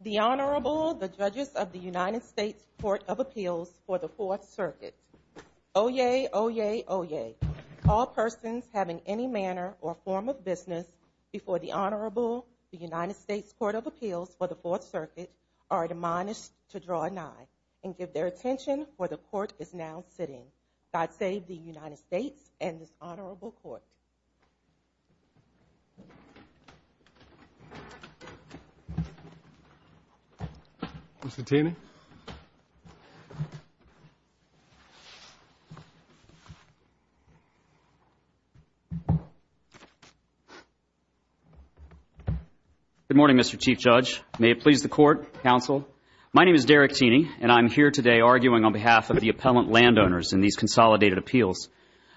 The Honorable, the Judges of the United States Court of Appeals for the Fourth Circuit. Oyez. Oyez. Oyez. All persons having any manner or form of business before the Honorable, the United States Court of Appeals for the Fourth Circuit are admonished to draw a 9 and give their attention where the Court is now sitting. God save the United States and this Honorable Court. Mr. Timmons? Good morning, Mr. Chief Judge. May it please the Court, Counsel. My name is Derek Tiney, and I'm here today arguing on behalf of the appellant landowners in these consolidated appeals.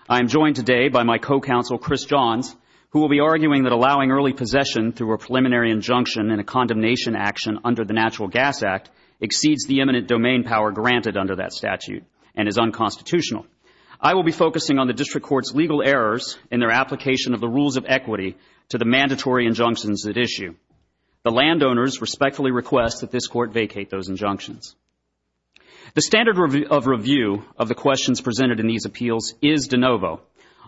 I am joined today by my co-counsel, Chris Johns, who will be arguing that allowing early possession through a preliminary injunction in a condemnation action under the Natural Gas Act exceeds the eminent domain power granted under that statute and is unconstitutional. I will be focusing on the District Court's legal errors in their application of the rules of equity to the mandatory injunctions at issue. The landowners respectfully request that this Court vacate those injunctions. The standard of review of the questions presented in these appeals is de novo.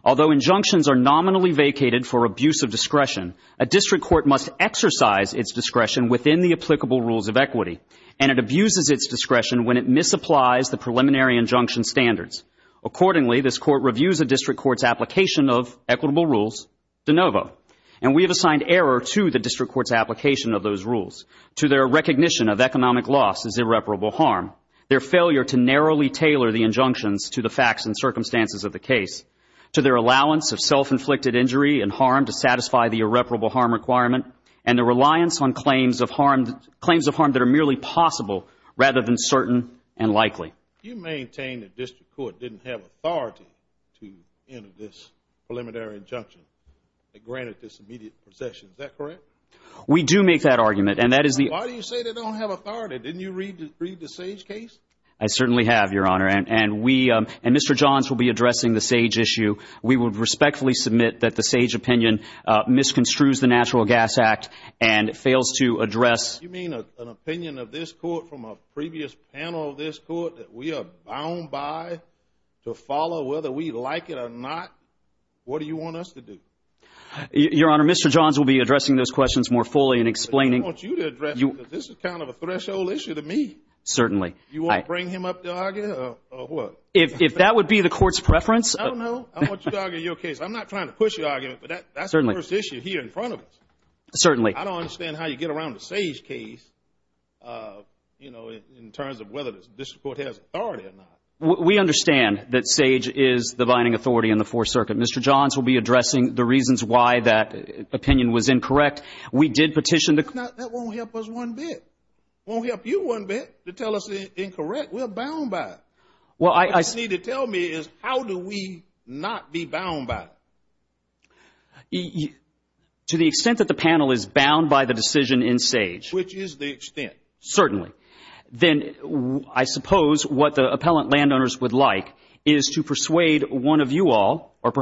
Although injunctions are nominally vacated for abuse of discretion, a District Court must exercise its discretion within the applicable rules of equity, and it abuses its discretion when it misapplies the preliminary injunction standards. Accordingly, this Court reviews the District Court's application of equitable rules de novo, and we have assigned error to the District Court's application of those rules, to their recognition of economic loss as irreparable harm, their failure to narrowly tailor the injunctions to the facts and circumstances of the case, to their allowance of self-inflicted injury and harm to satisfy the irreparable harm requirement, and the reliance on claims of harm that are merely possible rather than certain and likely. You maintain that the District Court didn't have authority to end this preliminary injunction that granted this immediate possession. Is that correct? We do make that argument. Why do you say they don't have authority? Didn't you read the Sage case? I certainly have, Your Honor, and Mr. Johns will be addressing the Sage issue. We would respectfully submit that the Sage opinion misconstrues the Natural Gas Act and fails to address… You mean an opinion of this Court from a previous panel of this Court that we are bound by to follow whether we like it or not? What do you want us to do? Your Honor, Mr. Johns will be addressing those questions more fully and explaining… I want you to address it because this is kind of a threshold issue to me. Certainly. You want to bring him up to argue or what? If that would be the Court's preference… I don't know. I want you to argue your case. I'm not trying to push the argument, but that's the first issue here in front of us. Certainly. I don't understand how you get around the Sage case in terms of whether the District Court has authority or not. We understand that Sage is the binding authority in the Fourth Circuit. Mr. Johns will be addressing the reasons why that opinion was incorrect. That won't help us one bit. It won't help you one bit to tell us it's incorrect. We're bound by it. What you need to tell me is how do we not be bound by it? To the extent that the panel is bound by the decision in Sage… Which is the extent. Certainly. Then I suppose what the appellant landowners would like is to persuade one of you all or the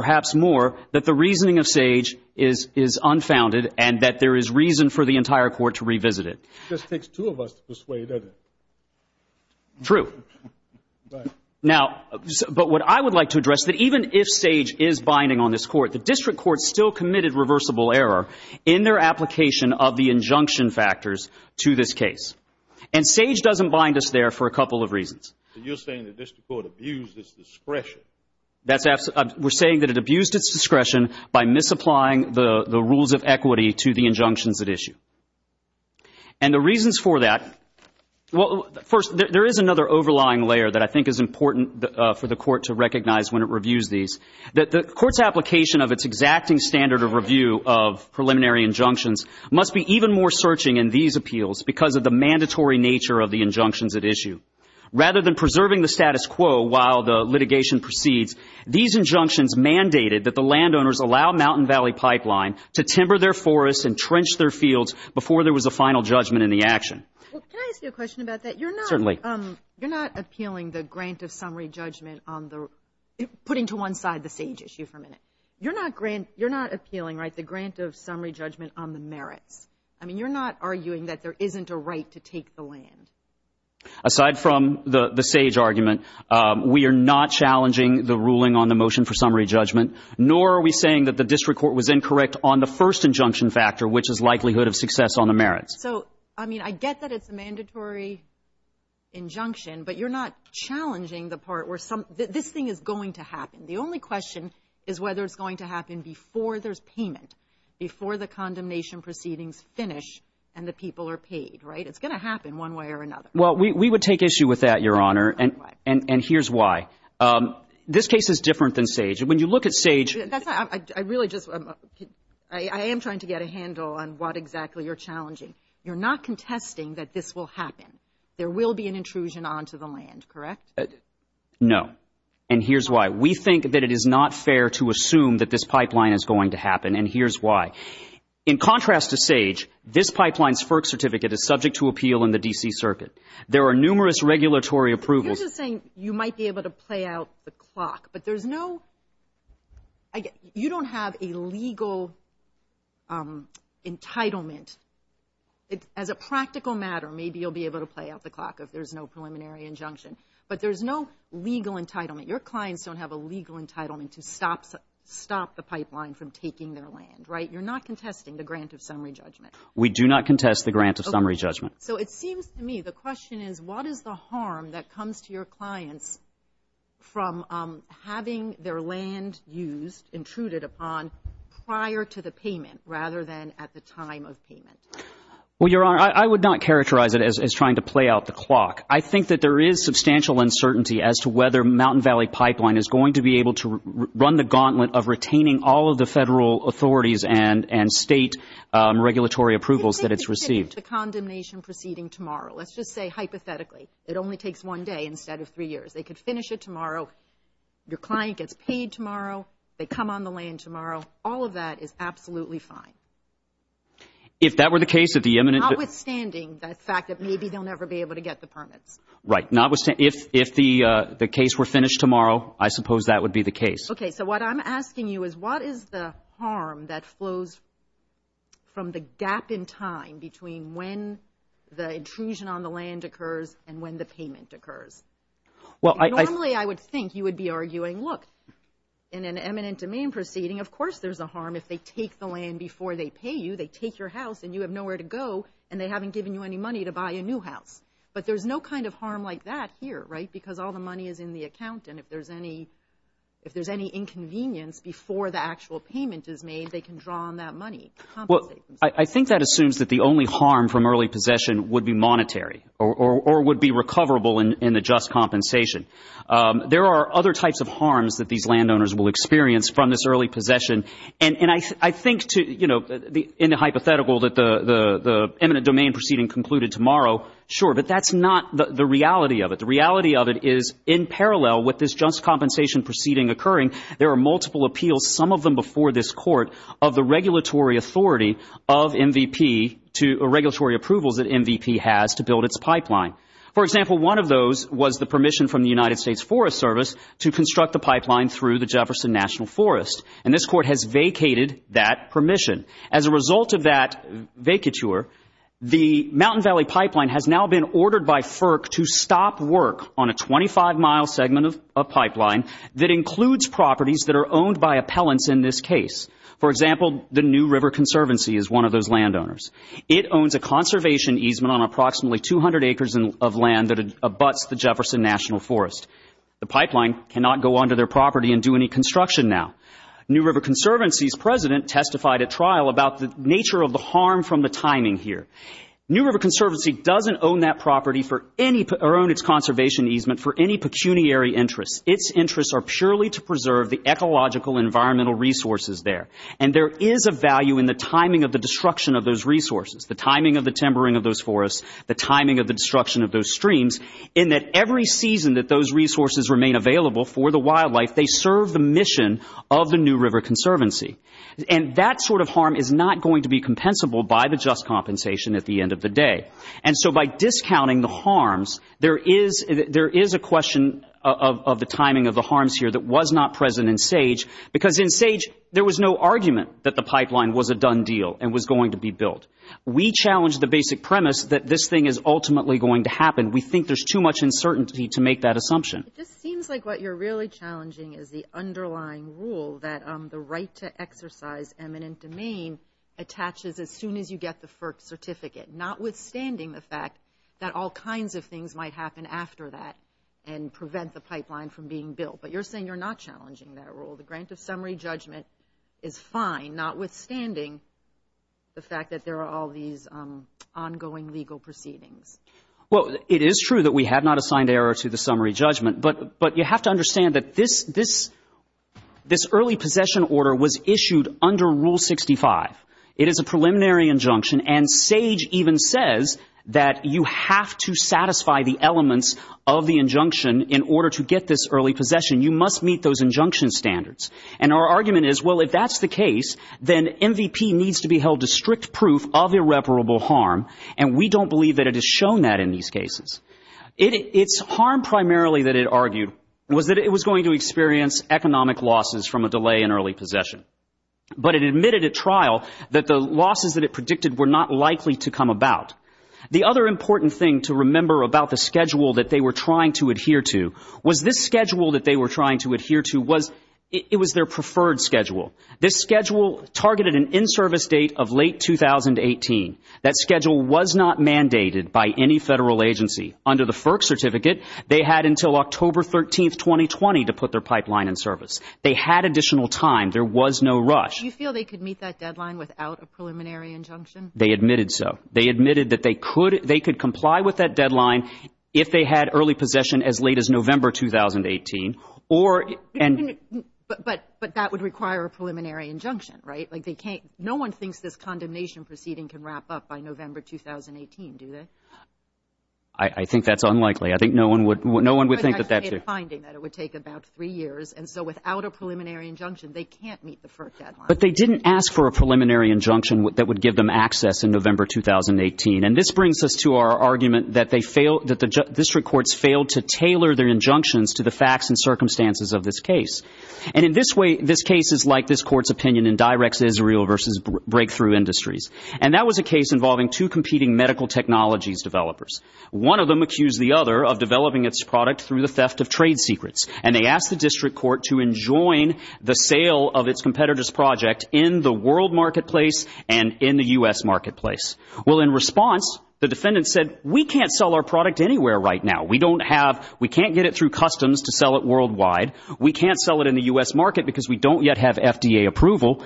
entire Court to revisit it. This takes two of us to persuade, doesn't it? True. But what I would like to address is that even if Sage is binding on this Court, the District Court still committed reversible error in their application of the injunction factors to this case. And Sage doesn't bind us there for a couple of reasons. You're saying the District Court abused its discretion. We're saying that it abused its discretion by misapplying the rules of equity to the injunctions at issue. And the reasons for that… Well, first, there is another overlying layer that I think is important for the Court to recognize when it reviews these. The Court's application of its exacting standard of review of preliminary injunctions must be even more searching in these appeals because of the mandatory nature of the injunctions at issue. Rather than preserving the status quo while the litigation proceeds, these injunctions mandated that the landowners allow Mountain Valley Pipeline to timber their forests and trench their fields before there was a final judgment in the action. Can I ask you a question about that? Certainly. You're not appealing the grant of summary judgment on the…putting to one side the Sage issue for a minute. You're not appealing the grant of summary judgment on the merits. I mean, you're not arguing that there isn't a right to take the land. Aside from the Sage argument, we are not challenging the ruling on the motion for summary judgment, nor are we saying that the district court was incorrect on the first injunction factor, which is likelihood of success on the merits. So, I mean, I get that it's a mandatory injunction, but you're not challenging the part where some…this thing is going to happen. The only question is whether it's going to happen before there's payment, before the condemnation proceedings finish and the people are paid, right? It's going to happen one way or another. Well, we would take issue with that, Your Honor, and here's why. This case is different than Sage. When you look at Sage… I really just…I am trying to get a handle on what exactly you're challenging. You're not contesting that this will happen. There will be an intrusion onto the land, correct? No, and here's why. We think that it is not fair to assume that this pipeline is going to happen, and here's why. In contrast to Sage, this pipeline's FERC certificate is subject to appeal in the D.C. Circuit. There are numerous regulatory approvals… You're just saying you might be able to play out the clock, but there's no… you don't have a legal entitlement. As a practical matter, maybe you'll be able to play out the clock if there's no preliminary injunction, but there's no legal entitlement. Your clients don't have a legal entitlement to stop the pipeline from taking their land, right? You're not contesting the grant of summary judgment. We do not contest the grant of summary judgment. So it seems to me the question is, what is the harm that comes to your clients from having their land used, intruded upon prior to the payment rather than at the time of payment? Well, Your Honor, I would not characterize it as trying to play out the clock. I think that there is substantial uncertainty as to whether Mountain Valley Pipeline is going to be able to run the gauntlet of retaining all of the federal authorities and state regulatory approvals that it's received. The condemnation proceeding tomorrow, let's just say hypothetically, it only takes one day instead of three years. They could finish it tomorrow. Your client gets paid tomorrow. They come on the land tomorrow. All of that is absolutely fine. If that were the case, if the imminent… Notwithstanding that fact that maybe they'll never be able to get the permit. Right. If the case were finished tomorrow, I suppose that would be the case. Okay. So what I'm asking you is, what is the harm that flows from the gap in time between when the intrusion on the land occurs and when the payment occurs? Normally I would think you would be arguing, look, in an eminent domain proceeding, of course there's a harm. If they take the land before they pay you, they take your house and you have nowhere to go and they haven't given you any money to buy a new house. But there's no kind of harm like that here, right? Because all the money is in the account, and if there's any inconvenience before the actual payment is made, they can draw on that money to compensate. Well, I think that assumes that the only harm from early possession would be monetary or would be recoverable in the just compensation. There are other types of harms that these landowners will experience from this early possession, and I think in the hypothetical that the eminent domain proceeding concluded tomorrow, sure, but that's not the reality of it. The reality of it is in parallel with this just compensation proceeding occurring, there are multiple appeals, some of them before this court, of the regulatory authority of MVP to a regulatory approval that MVP has to build its pipeline. For example, one of those was the permission from the United States Forest Service to construct the pipeline through the Jefferson National Forest, and this court has vacated that permission. As a result of that vacature, the Mountain Valley Pipeline has now been ordered by FERC to stop work on a 25-mile segment of pipeline that includes properties that are owned by appellants in this case. For example, the New River Conservancy is one of those landowners. It owns a conservation easement on approximately 200 acres of land that abuts the Jefferson National Forest. The pipeline cannot go onto their property and do any construction now. New River Conservancy's president testified at trial about the nature of the harm from the timing here. New River Conservancy doesn't own that property or own its conservation easement for any pecuniary interest. Its interests are purely to preserve the ecological environmental resources there, and there is a value in the timing of the destruction of those resources, the timing of the timbering of those forests, the timing of the destruction of those streams, in that every season that those resources remain available for the wildlife, they serve the mission of the New River Conservancy. And that sort of harm is not going to be compensable by the just compensation at the end of the day. And so by discounting the harms, there is a question of the timing of the harms here that was not present in SAGE because in SAGE there was no argument that the pipeline was a done deal and was going to be built. We challenged the basic premise that this thing is ultimately going to happen. We think there's too much uncertainty to make that assumption. It just seems like what you're really challenging is the underlying rule that the right to exercise eminent domain attaches as soon as you get the first certificate, notwithstanding the fact that all kinds of things might happen after that and prevent the pipeline from being built. But you're saying you're not challenging that rule. The grant of summary judgment is fine, notwithstanding the fact that there are all these ongoing legal proceedings. Well, it is true that we have not assigned error to the summary judgment, but you have to understand that this early possession order was issued under Rule 65. It is a preliminary injunction, and SAGE even says that you have to satisfy the elements of the injunction in order to get this early possession. You must meet those injunction standards. And our argument is, well, if that's the case, then MVP needs to be held to strict proof of irreparable harm, and we don't believe that it has shown that in these cases. Its harm primarily that it argued was that it was going to experience economic losses from a delay in early possession. But it admitted at trial that the losses that it predicted were not likely to come about. The other important thing to remember about the schedule that they were trying to adhere to was this schedule that they were trying to adhere to was their preferred schedule. This schedule targeted an in-service date of late 2018. That schedule was not mandated by any federal agency. Under the FERC certificate, they had until October 13, 2020, to put their pipeline in service. They had additional time. There was no rush. Do you feel they could meet that deadline without a preliminary injunction? They admitted so. They admitted that they could comply with that deadline if they had early possession as late as November 2018. But that would require a preliminary injunction, right? No one thinks this condemnation proceeding can wrap up by November 2018, do they? I think that's unlikely. I think no one would think that that's it. It would take about three years. And so without a preliminary injunction, they can't meet the first deadline. But they didn't ask for a preliminary injunction that would give them access in November 2018. And this brings us to our argument that the district courts failed to tailor their injunctions to the facts and circumstances of this case. And in this case, it's like this court's opinion in direct Israel versus breakthrough industries. And that was a case involving two competing medical technologies developers. One of them accused the other of developing its product through the theft of trade secrets. And they asked the district court to enjoin the sale of its competitor's project in the world marketplace and in the U.S. marketplace. Well, in response, the defendants said, we can't sell our product anywhere right now. We can't get it through customs to sell it worldwide. We can't sell it in the U.S. market because we don't yet have FDA approval.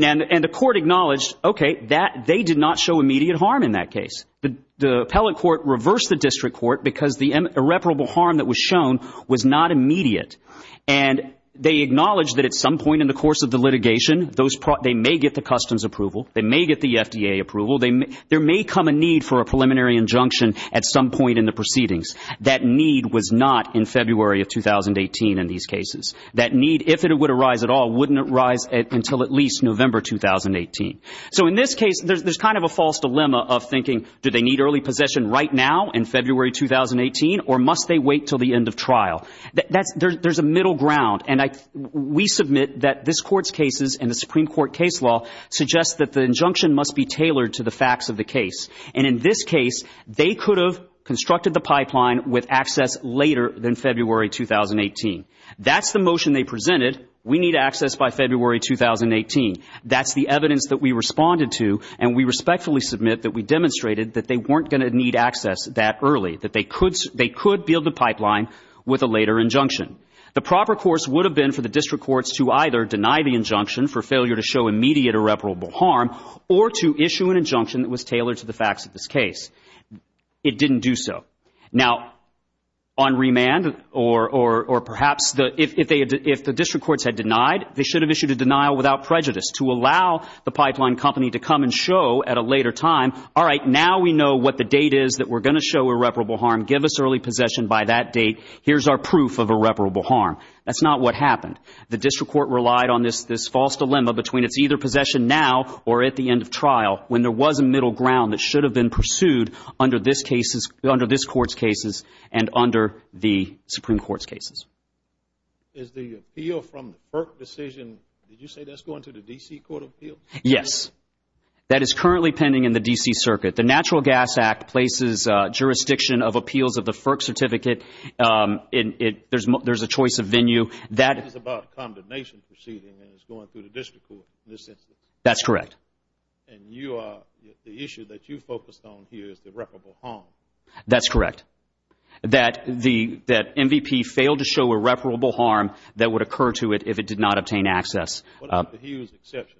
And the court acknowledged, okay, they did not show immediate harm in that case. The appellate court reversed the district court because the irreparable harm that was shown was not immediate. And they acknowledged that at some point in the course of the litigation, they may get the customs approval. They may get the FDA approval. There may come a need for a preliminary injunction at some point in the proceedings. That need was not in February of 2018 in these cases. That need, if it would arise at all, wouldn't arise until at least November 2018. So in this case, there's kind of a false dilemma of thinking, do they need early possession right now in February 2018, or must they wait until the end of trial? There's a middle ground. And we submit that this court's cases and the Supreme Court case law suggest that the injunction must be tailored to the facts of the case. And in this case, they could have constructed the pipeline with access later than February 2018. That's the motion they presented. We need access by February 2018. That's the evidence that we responded to, and we respectfully submit that we demonstrated that they weren't going to need access that early, that they could build a pipeline with a later injunction. The proper course would have been for the district courts to either deny the injunction for failure to show immediate irreparable harm or to issue an injunction that was tailored to the facts of this case. It didn't do so. Now, on remand, or perhaps if the district courts had denied, they should have issued a denial without prejudice to allow the pipeline company to come and show at a later time, all right, now we know what the date is that we're going to show irreparable harm. Give us early possession by that date. Here's our proof of irreparable harm. That's not what happened. The district court relied on this false dilemma between it's either possession now or at the end of trial when there was a middle ground that should have been pursued under this court's cases and under the Supreme Court's cases. Is the appeal from FERC decision, did you say that's going to the D.C. Court of Appeals? Yes. That is currently pending in the D.C. Circuit. The Natural Gas Act places jurisdiction of appeals of the FERC certificate. There's a choice of venue. This is about condemnation proceeding and it's going through the district court. That's correct. And the issue that you focused on here is the irreparable harm. That's correct. That MVP failed to show irreparable harm that would occur to it if it did not obtain access. What about the Hughes exception?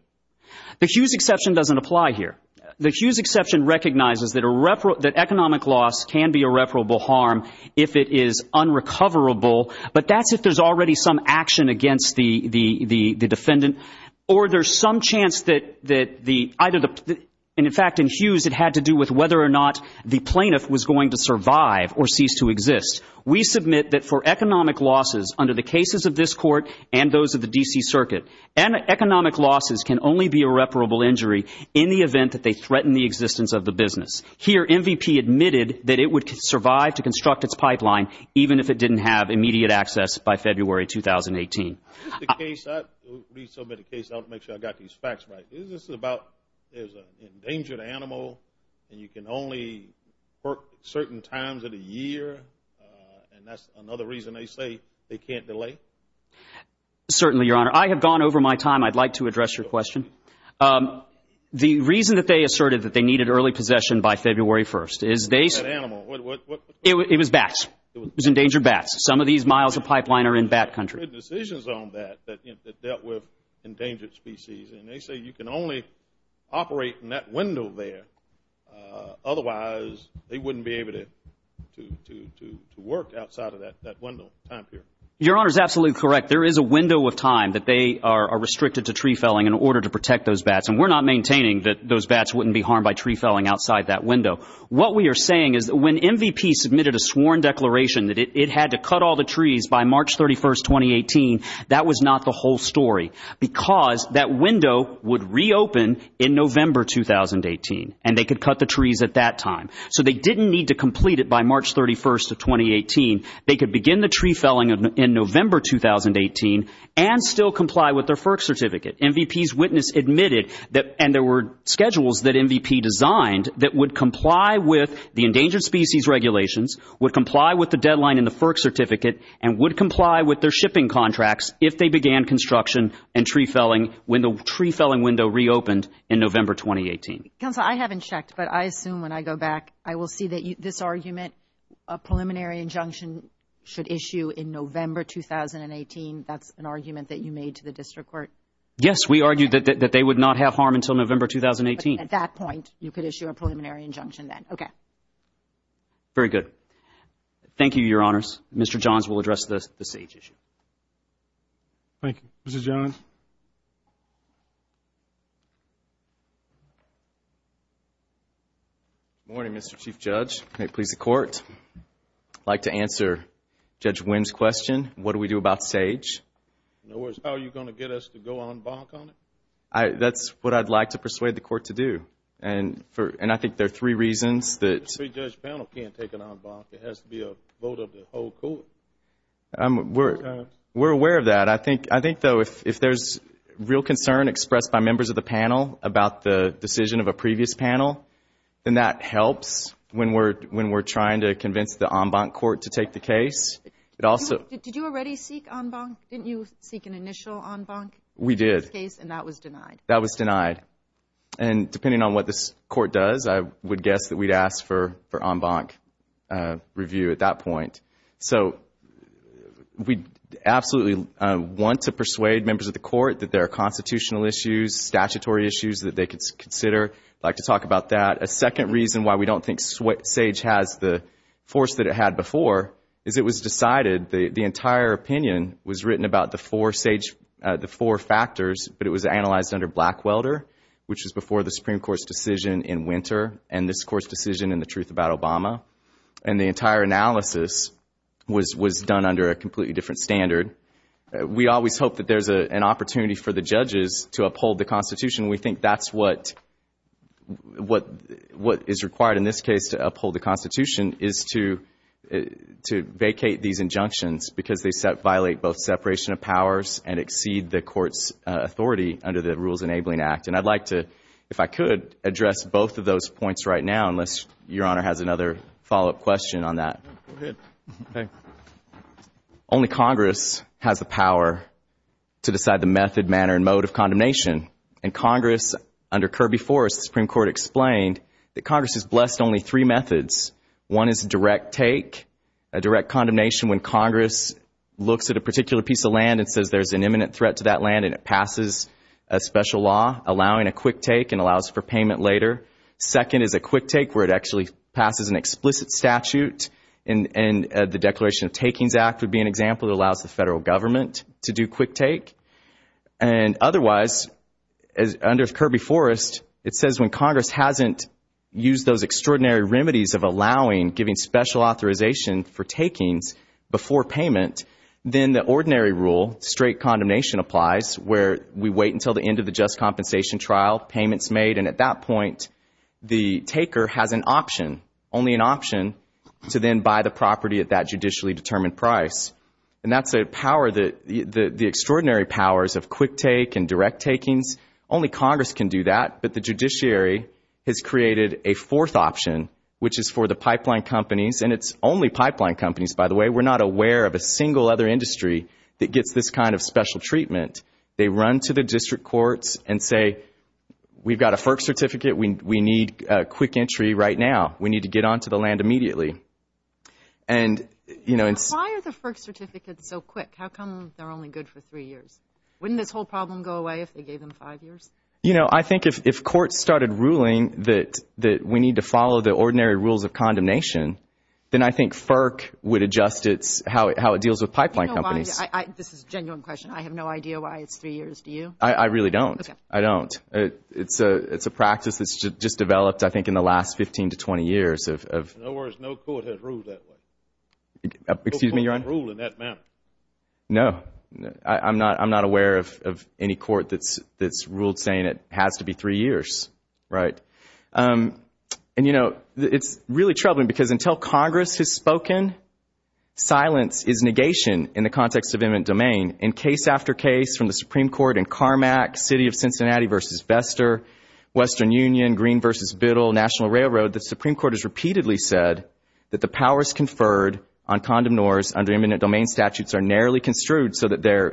The Hughes exception doesn't apply here. The Hughes exception recognizes that economic loss can be irreparable harm if it is unrecoverable, but that's if there's already some action against the defendant or there's some chance that either the, in fact, in Hughes, it had to do with whether or not the plaintiff was going to survive or cease to exist. We submit that for economic losses under the cases of this court and those of the D.C. Circuit, economic losses can only be irreparable injury in the event that they threaten the existence of the business. Here, MVP admitted that it would survive to construct its pipeline, even if it didn't have immediate access by February 2018. I'll make sure I've got these facts right. Isn't this about there's an endangered animal and you can only work certain times of the year, and that's another reason they say they can't delay? Certainly, Your Honor. I have gone over my time. I'd like to address your question. The reason that they asserted that they needed early possession by February 1st is they said it was bats. It was endangered bats. Some of these miles of pipeline are in bat country. There were decisions on that that dealt with endangered species, and they say you can only operate in that window there. Otherwise, they wouldn't be able to work outside of that window of time period. Your Honor is absolutely correct. There is a window of time that they are restricted to tree felling in order to protect those bats, and we're not maintaining that those bats wouldn't be harmed by tree felling outside that window. What we are saying is when MVP submitted a sworn declaration that it had to cut all the trees by March 31st, 2018, that was not the whole story because that window would reopen in November 2018, and they could cut the trees at that time. So they didn't need to complete it by March 31st of 2018. They could begin the tree felling in November 2018 and still comply with their FERC certificate. MVP's witness admitted that there were schedules that MVP designed that would comply with the endangered species regulations, would comply with the deadline in the FERC certificate, and would comply with their shipping contracts if they began construction and tree felling when the tree felling window reopened in November 2018. Counselor, I haven't checked, but I assume when I go back, I will see that this argument, a preliminary injunction should issue in November 2018. That's an argument that you made to the district court? Yes, we argued that they would not have harm until November 2018. At that point, you could issue a preliminary injunction then. Okay. Very good. Thank you, Your Honors. Mr. Johns will address the SAGE issue. Thank you. Mr. Johns? Good morning, Mr. Chief Judge. May it please the Court. I'd like to answer Judge Wynn's question, what do we do about SAGE? In other words, how are you going to get us to go en banc on it? That's what I'd like to persuade the Court to do. And I think there are three reasons. The SAGE judge panel can't take it en banc. It has to be a vote of the whole Court. We're aware of that. I think, though, if there's an issue, if there's real concern expressed by members of the panel about the decision of a previous panel, then that helps when we're trying to convince the en banc court to take the case. Did you already seek en banc? Didn't you seek an initial en banc? We did. And that was denied. That was denied. And depending on what this Court does, I would guess that we'd ask for en banc review at that point. So we absolutely want to persuade members of the Court that there are constitutional issues, statutory issues that they could consider. I'd like to talk about that. A second reason why we don't think SAGE has the force that it had before is it was decided, the entire opinion was written about the four factors, but it was analyzed under Blackwelder, which is before the Supreme Court's decision in winter and this Court's decision in The Truth About Obama. And the entire analysis was done under a completely different standard. We always hope that there's an opportunity for the judges to uphold the Constitution. We think that's what is required in this case to uphold the Constitution, is to vacate these injunctions because they violate both separation of powers and exceed the Court's authority under the Rules Enabling Act. And I'd like to, if I could, address both of those points right now, unless Your Honor has another follow-up question on that. Go ahead. Only Congress has the power to decide the method, manner, and mode of condemnation. And Congress, under Kirby Forest, the Supreme Court explained that Congress is blessed only three methods. One is direct take, a direct condemnation when Congress looks at a particular piece of land and says there's an imminent threat to that land and it passes a special law allowing a quick take and allows for payment later. Second is a quick take where it actually passes an explicit statute, and the Declaration of Takings Act would be an example that allows the federal government to do quick take. And otherwise, under Kirby Forest, it says when Congress hasn't used those extraordinary remedies of allowing, giving special authorization for takings before payment, then the ordinary rule, straight condemnation applies, where we wait until the end of the just compensation trial, payment's made, and at that point the taker has an option, only an option to then buy the property at that judicially determined price. And that's the extraordinary powers of quick take and direct takings. Only Congress can do that, but the judiciary has created a fourth option, which is for the pipeline companies, and it's only pipeline companies, by the way. We're not aware of a single other industry that gets this kind of special treatment. They run to the district courts and say we've got a FERC certificate. We need quick entry right now. We need to get onto the land immediately. Why are the FERC certificates so quick? How come they're only good for three years? Wouldn't this whole problem go away if they gave them five years? You know, I think if courts started ruling that we need to follow the ordinary rules of condemnation, then I think FERC would adjust how it deals with pipeline companies. This is a genuine question. I have no idea why it's three years. Do you? I really don't. I don't. It's a practice that's just developed, I think, in the last 15 to 20 years. In other words, no court has ruled that way. Excuse me, Your Honor? No court has ruled in that manner. No. I'm not aware of any court that's ruled saying it has to be three years. Right. And, you know, it's really troubling because until Congress has spoken, silence is negation in the context of eminent domain. In case after case from the Supreme Court in Carmack, City of Cincinnati v. Vester, Western Union, Green v. Biddle, National Railroad, the Supreme Court has repeatedly said that the powers conferred on so that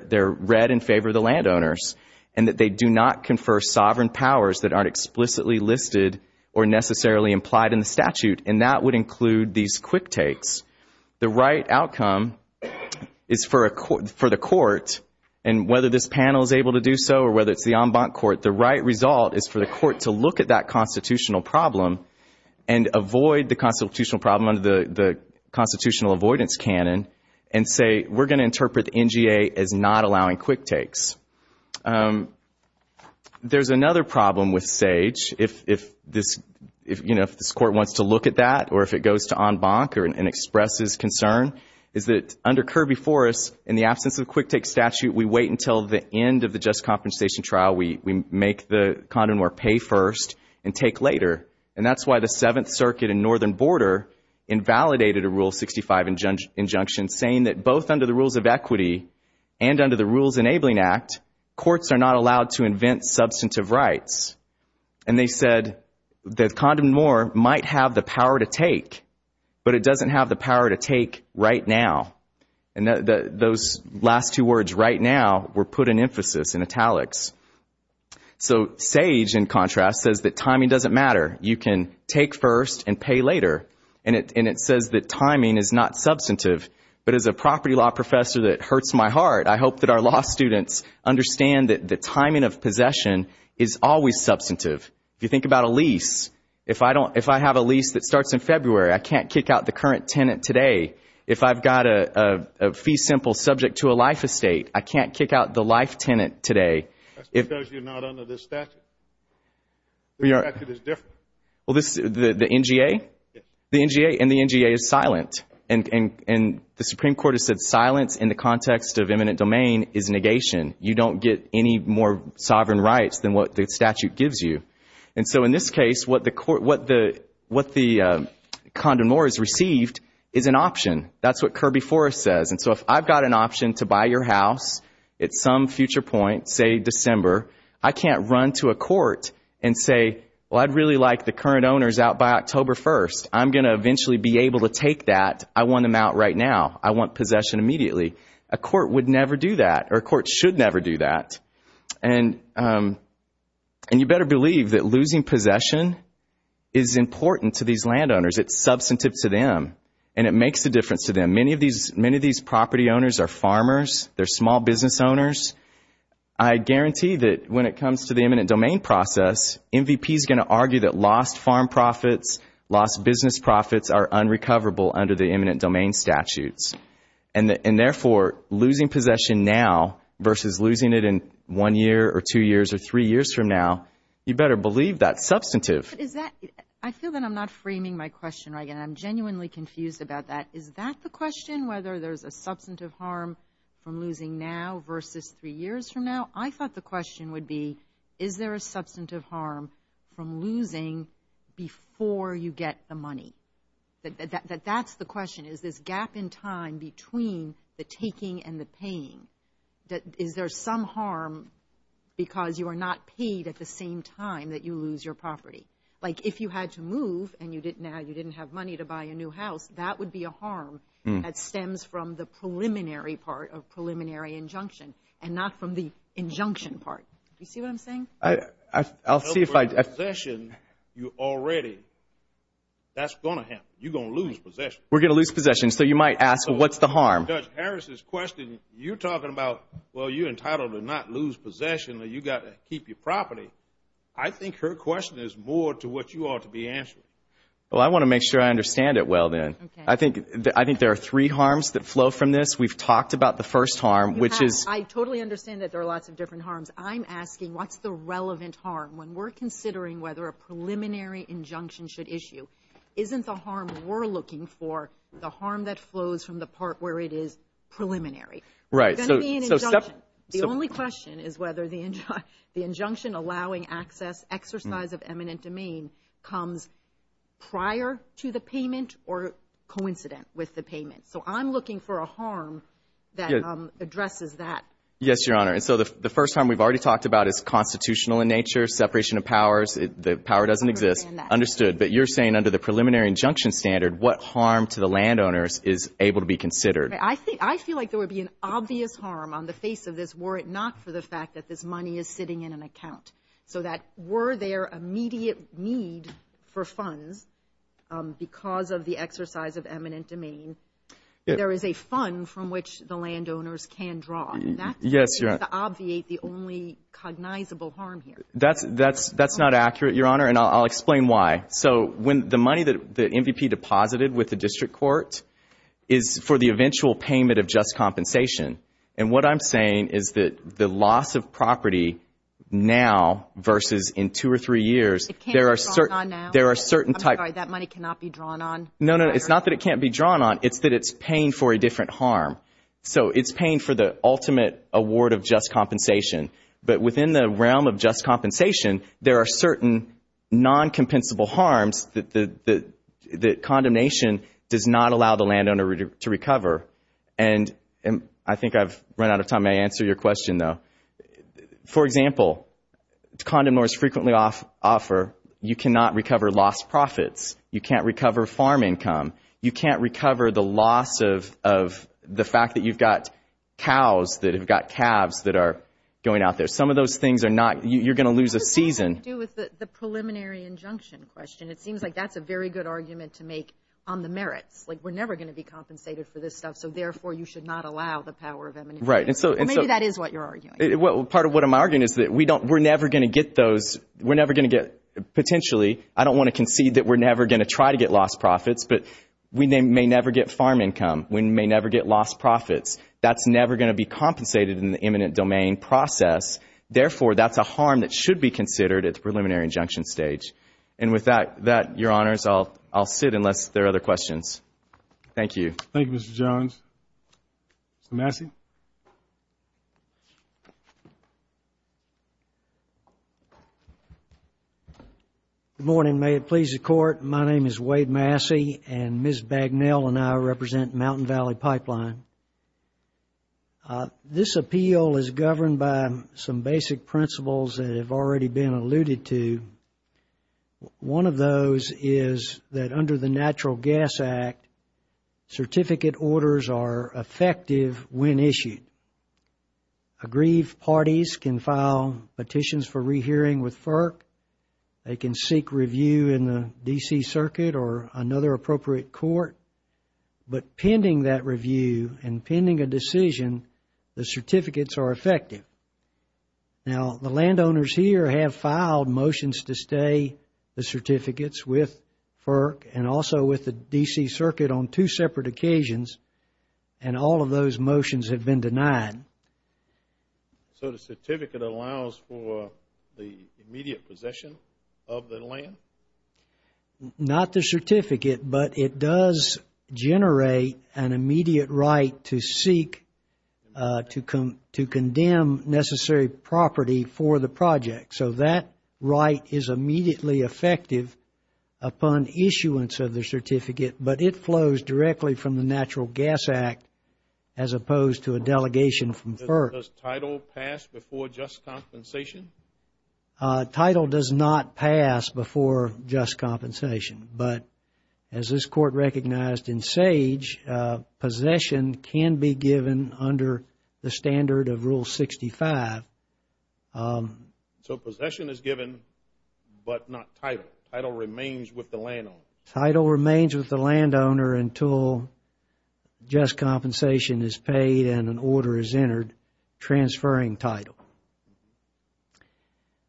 they're read in favor of the landowners, and that they do not confer sovereign powers that aren't explicitly listed or necessarily implied in the statute, and that would include these quick takes. The right outcome is for the court, and whether this panel is able to do so or whether it's the en banc court, the right result is for the court to look at that constitutional problem and avoid the constitutional problem under the constitutional avoidance canon and say we're going to interpret the NGA as not allowing quick takes. There's another problem with SAGE. If this court wants to look at that or if it goes to en banc or expresses concern is that under Kirby Forrest, in the absence of a quick take statute, we wait until the end of the just compensation trial. We make the condom or pay first and take later, and that's why the Seventh Circuit in Northern Border invalidated a Rule 65 injunction saying that both under the rules of equity and under the Rules Enabling Act, courts are not allowed to invent substantive rights, and they said the condom or might have the power to take, but it doesn't have the power to take right now, and those last two words right now were put in emphasis in italics. So SAGE, in contrast, says that timing doesn't matter. You can take first and pay later, and it says that timing is not substantive, but as a property law professor that hurts my heart, I hope that our law students understand that the timing of possession is always substantive. If you think about a lease, if I have a lease that starts in February, I can't kick out the current tenant today. If I've got a fee simple subject to a life estate, I can't kick out the life tenant today. That's because you're not under the statute. The statute is different. The NGA? Yes. The NGA, and the NGA is silent, and the Supreme Court has said silence in the context of eminent domain is negation. You don't get any more sovereign rights than what the statute gives you, and so in this case, what the condomor is received is an option. That's what Kirby Forrest says, and so if I've got an option to buy your house at some future point, say December, I can't run to a court and say, well, I'd really like the current owners out by October 1st. I'm going to eventually be able to take that. I want them out right now. I want possession immediately. A court would never do that, or a court should never do that, and you better believe that losing possession is important to these landowners. It's substantive to them, and it makes a difference to them. Many of these property owners are farmers. They're small business owners. I guarantee that when it comes to the eminent domain process, MVP is going to argue that lost farm profits, lost business profits, are unrecoverable under the eminent domain statutes, and therefore losing possession now versus losing it in one year or two years or three years from now, you better believe that's substantive. I feel that I'm not framing my question right, and I'm genuinely confused about that. Is that the question, whether there's a substantive harm from losing now versus three years from now? I thought the question would be, is there a substantive harm from losing before you get the money? That's the question. Is this gap in time between the taking and the paying? Is there some harm because you are not paid at the same time that you lose your property? Like if you had to move and you didn't have money to buy a new house, that would be a harm that stems from the preliminary part of preliminary injunction and not from the injunction part. Do you see what I'm saying? I'll see if I do. Possession, you already, that's going to happen. You're going to lose possession. We're going to lose possession. So you might ask, what's the harm? Judge Harris's question, you're talking about, well, you're entitled to not lose possession. You've got to keep your property. I think her question is more to what you ought to be answering. Well, I want to make sure I understand it well then. I think there are three harms that flow from this. We've talked about the first harm, which is – I totally understand that there are lots of different harms. I'm asking, what's the relevant harm? When we're considering whether a preliminary injunction should issue, isn't the harm we're looking for the harm that flows from the part where it is preliminary? Right. The only question is whether the injunction allowing access, exercise of eminent domain comes prior to the payment or coincident with the payment. So I'm looking for a harm that addresses that. Yes, Your Honor. So the first harm we've already talked about is constitutional in nature, separation of powers. The power doesn't exist. Understood. But you're saying under the preliminary injunction standard, what harm to the landowners is able to be considered? I feel like there would be an obvious harm on the face of this were it not for the fact that this money is sitting in an account. So that were there immediate need for funds because of the exercise of eminent domain, there is a fund from which the landowners can draw. Yes, Your Honor. That's the only cognizable harm here. That's not accurate, Your Honor, and I'll explain why. So the money that the MVP deposited with the district court is for the eventual payment of just compensation. And what I'm saying is that the loss of property now versus in two or three years, there are certain types. I'm sorry, that money cannot be drawn on? No, no, it's not that it can't be drawn on. It's that it's paying for a different harm. So it's paying for the ultimate award of just compensation. But within the realm of just compensation, there are certain non-compensable harms that condemnation does not allow the landowner to recover. And I think I've run out of time to answer your question, though. For example, condemn lawyers frequently offer you cannot recover lost profits. You can't recover farm income. You can't recover the loss of the fact that you've got cows that have got calves that are going out there. Some of those things are not you're going to lose a season. What does that have to do with the preliminary injunction question? It seems like that's a very good argument to make on the merits. Like we're never going to be compensated for this stuff, so therefore you should not allow the power of emancipation. Maybe that is what you're arguing. Part of what I'm arguing is that we're never going to get those. But we may never get farm income. We may never get lost profits. That's never going to be compensated in the eminent domain process. Therefore, that's a harm that should be considered at the preliminary injunction stage. And with that, Your Honors, I'll sit unless there are other questions. Thank you. Thank you, Mr. Jones. Massey? Good morning. May it please the Court. My name is Wade Massey, and Ms. Bagnell and I represent Mountain Valley Pipeline. This appeal is governed by some basic principles that have already been alluded to. One of those is that under the Natural Gas Act, certificate orders are effective when issued. Aggrieved parties can file petitions for rehearing with FERC. They can seek review in the D.C. Circuit or another appropriate court. But pending that review and pending a decision, the certificates are effective. Now, the landowners here have filed motions to stay the certificates with FERC and also with the D.C. Circuit on two separate occasions, and all of those motions have been denied. So the certificate allows for the immediate possession of the land? Not the certificate, but it does generate an immediate right to seek to condemn necessary property for the project. So that right is immediately effective upon issuance of the certificate, but it flows directly from the Natural Gas Act as opposed to a delegation from FERC. Does title pass before just compensation? Title does not pass before just compensation, but as this court recognized in SAGE, possession can be given under the standard of Rule 65. So possession is given, but not title. Title remains with the landowner. Title remains with the landowner until just compensation is paid and an order is entered transferring title.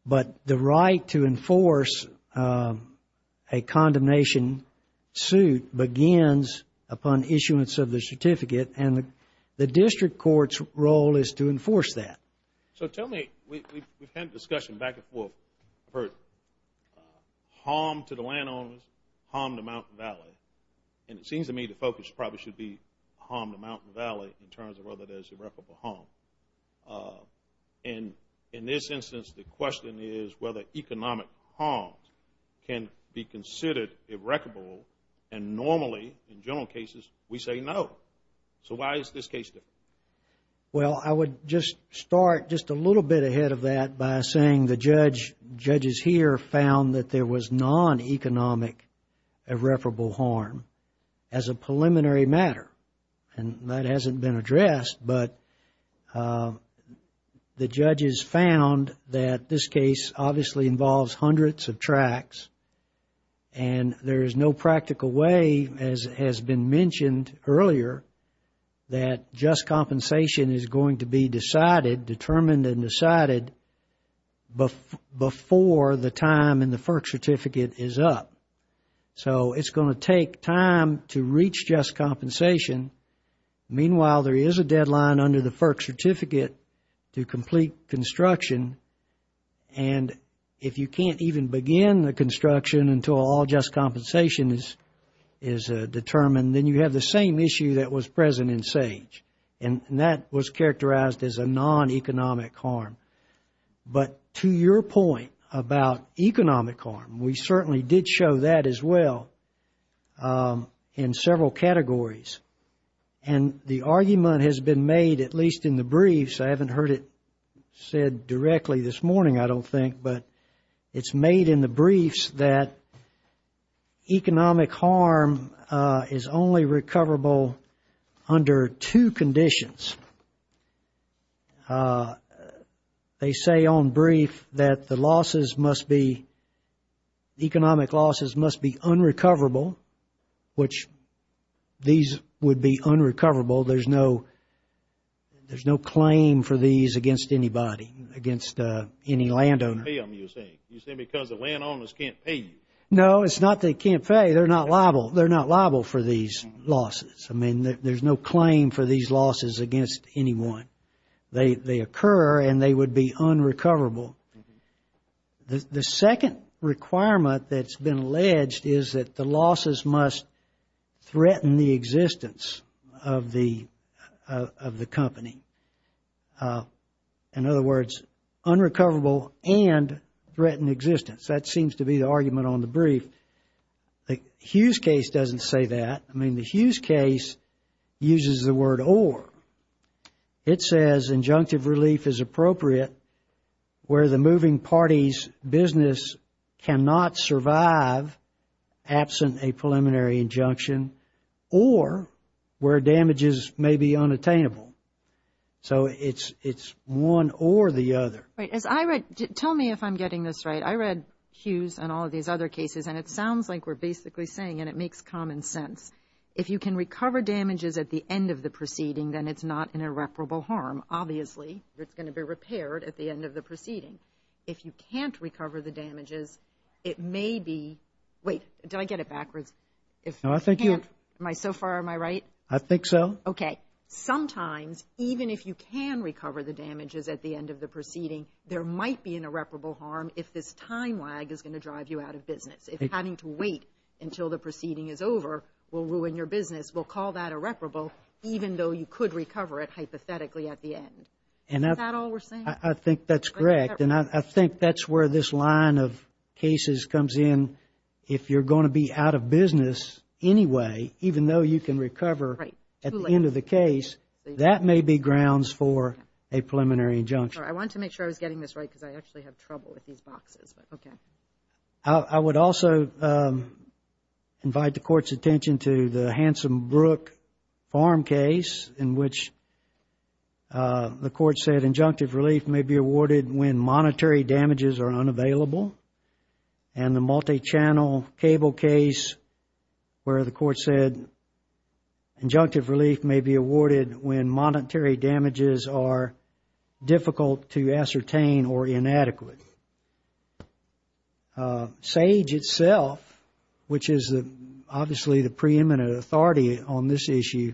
But the right to enforce a condemnation suit begins upon issuance of the certificate, and the district court's role is to enforce that. So tell me, we've had discussion back and forth, harm to the landowners, harm to Mountain Valley, and it seems to me the focus probably should be harm to Mountain Valley in terms of whether there's irreparable harm. And in this instance, the question is whether economic harm can be considered irreparable, and normally, in general cases, we say no. So why is this case different? Well, I would just start just a little bit ahead of that by saying the judge, judges here, found that there was non-economic irreparable harm as a preliminary matter. And that hasn't been addressed, but the judges found that this case obviously involves hundreds of tracts, and there is no practical way, as has been mentioned earlier, that just compensation is going to be decided, determined and decided, before the time in the FERC certificate is up. So it's going to take time to reach just compensation. Meanwhile, there is a deadline under the FERC certificate to complete construction, and if you can't even begin the construction until all just compensation is determined, then you have the same issue that was present in SAGE, and that was characterized as a non-economic harm. But to your point about economic harm, we certainly did show that as well in several categories, and the argument has been made, at least in the briefs, I haven't heard it said directly this morning, I don't think, but it's made in the briefs that economic harm is only recoverable under two conditions. They say on brief that the losses must be, economic losses must be unrecoverable, which these would be unrecoverable, there's no claim for these against anybody, against any landowner. You say because the landowners can't pay you. No, it's not that they can't pay, they're not liable for these losses. I mean, there's no claim for these losses against anyone. They occur and they would be unrecoverable. The second requirement that's been alleged is that the losses must threaten the existence of the company. In other words, unrecoverable and threaten existence. That seems to be the argument on the brief. The Hughes case doesn't say that. I mean, the Hughes case uses the word or. It says injunctive relief is appropriate where the moving party's business cannot survive absent a preliminary injunction or where damages may be unattainable. So it's one or the other. Tell me if I'm getting this right. I read Hughes and all these other cases and it sounds like we're basically saying and it makes common sense, if you can recover damages at the end of the proceeding, then it's not an irreparable harm. Obviously, it's going to be repaired at the end of the proceeding. If you can't recover the damages, it may be – wait, did I get it backwards? So far, am I right? I think so. Okay. Sometimes, even if you can recover the damages at the end of the proceeding, there might be an irreparable harm if this time lag is going to drive you out of business. If having to wait until the proceeding is over will ruin your business, we'll call that irreparable even though you could recover it hypothetically at the end. Is that all we're saying? I think that's correct, and I think that's where this line of cases comes in. If you're going to be out of business anyway, even though you can recover at the end of the case, that may be grounds for a preliminary injunction. I wanted to make sure I was getting this right because I actually have trouble with these boxes. Okay. I would also invite the Court's attention to the Hanson Brook Farm case in which the Court said injunctive relief may be awarded when monetary damages are unavailable, and the multi-channel cable case where the Court said injunctive relief may be awarded when monetary damages are difficult to ascertain or inadequate. SAGE itself, which is obviously the preeminent authority on this issue,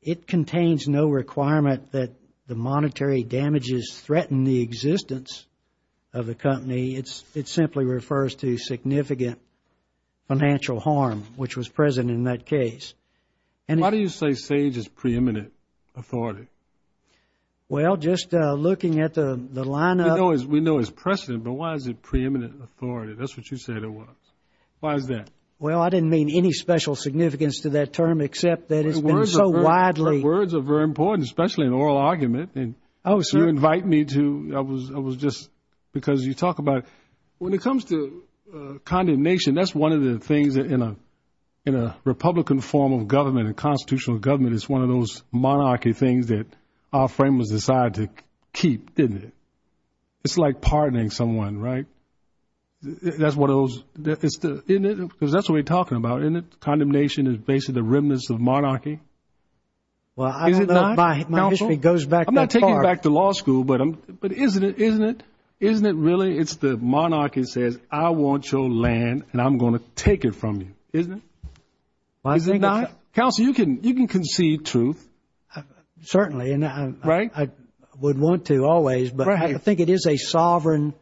it contains no requirement that the monetary damages threaten the existence of the company. It simply refers to significant financial harm, which was present in that case. Why do you say SAGE is preeminent authority? Well, just looking at the line up. We know it's precedent, but why is it preeminent authority? That's what you said it was. Why is that? Well, I didn't mean any special significance to that term except that it's been so widely. Words are very important, especially in oral argument, and you invite me to. I was just because you talk about when it comes to condemnation, and that's one of the things that in a Republican form of government, a constitutional government, it's one of those monarchy things that our framers decide to keep, isn't it? It's like pardoning someone, right? That's what we're talking about, isn't it? Condemnation is basically the remnants of monarchy. Well, my history goes back that far. I'm not taking it back to law school, but isn't it really? It's the monarchy that says, I want your land, and I'm going to take it from you, isn't it? Counsel, you can concede truth. Certainly, and I would want to always, but I think it is a sovereign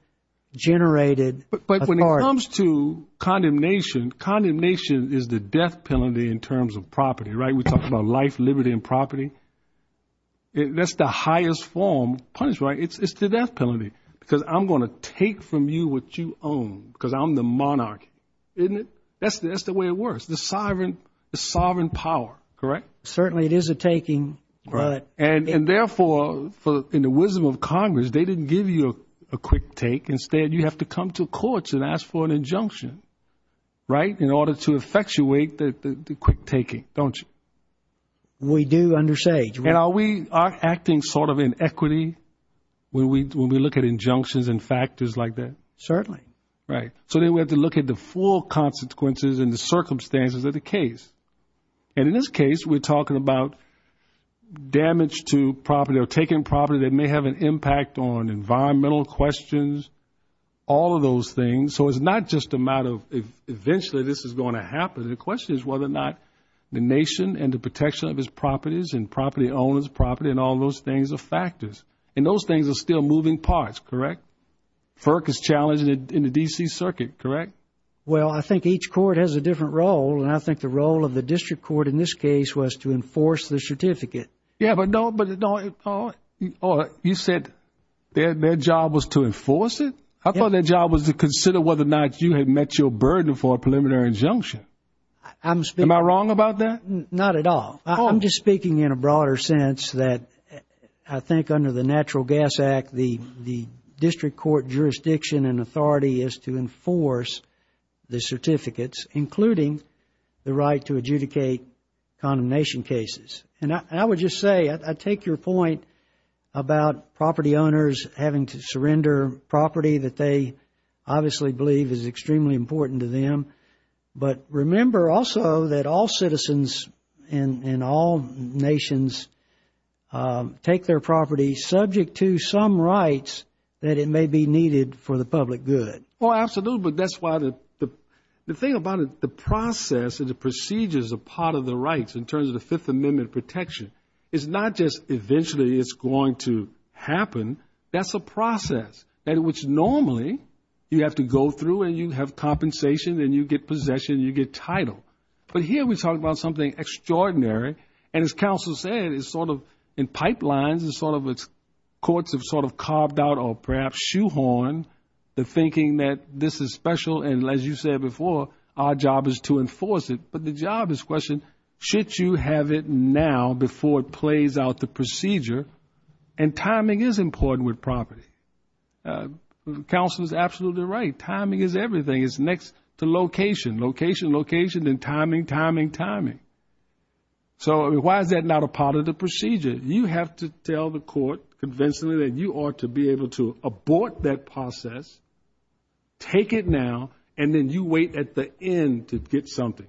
generated authority. But when it comes to condemnation, condemnation is the death penalty in terms of property, right? We're talking about life, liberty, and property. That's the highest form. It's the death penalty because I'm going to take from you what you own because I'm the monarchy, isn't it? That's the way it works, the sovereign power, correct? Certainly, it is a taking. And therefore, in the wisdom of Congress, they didn't give you a quick take. Instead, you have to come to courts and ask for an injunction, right, in order to effectuate the quick taking, don't you? We do under SAGE. And are we acting sort of in equity when we look at injunctions and factors like that? Certainly. Right. So then we have to look at the full consequences and the circumstances of the case. And in this case, we're talking about damage to property or taking property that may have an impact on environmental questions, all of those things. So it's not just a matter of eventually this is going to happen. The question is whether or not the nation and the protection of its properties and property owners' property and all those things are factors. And those things are still moving parts, correct? FERC is challenging it in the D.C. Circuit, correct? Well, I think each court has a different role, and I think the role of the district court in this case was to enforce the certificate. Yeah, but don't you say their job was to enforce it? I thought their job was to consider whether or not you had met your burden for a preliminary injunction. Am I wrong about that? Not at all. I'm just speaking in a broader sense that I think under the Natural Gas Act, the district court jurisdiction and authority is to enforce the certificates, including the right to adjudicate condemnation cases. And I would just say I take your point about property owners having to surrender property that they obviously believe is extremely important to them, but remember also that all citizens in all nations take their property subject to some rights that it may be needed for the public good. Oh, absolutely. That's why the thing about it, the process and the procedures are part of the rights in terms of the Fifth Amendment protection. It's not just eventually it's going to happen. That's a process which normally you have to go through, and you have compensation, and you get possession, and you get title. But here we're talking about something extraordinary. And as counsel said, it's sort of in pipelines, and courts have sort of carved out or perhaps shoehorned the thinking that this is special, and as you said before, our job is to enforce it. But the job is the question, should you have it now before it plays out the procedure? And timing is important with property. Counsel is absolutely right. Timing is everything. It's next to location, location, location, and timing, timing, timing. So why is that not a part of the procedure? You have to tell the court conventionally that you ought to be able to abort that process, take it now, and then you wait at the end to get something.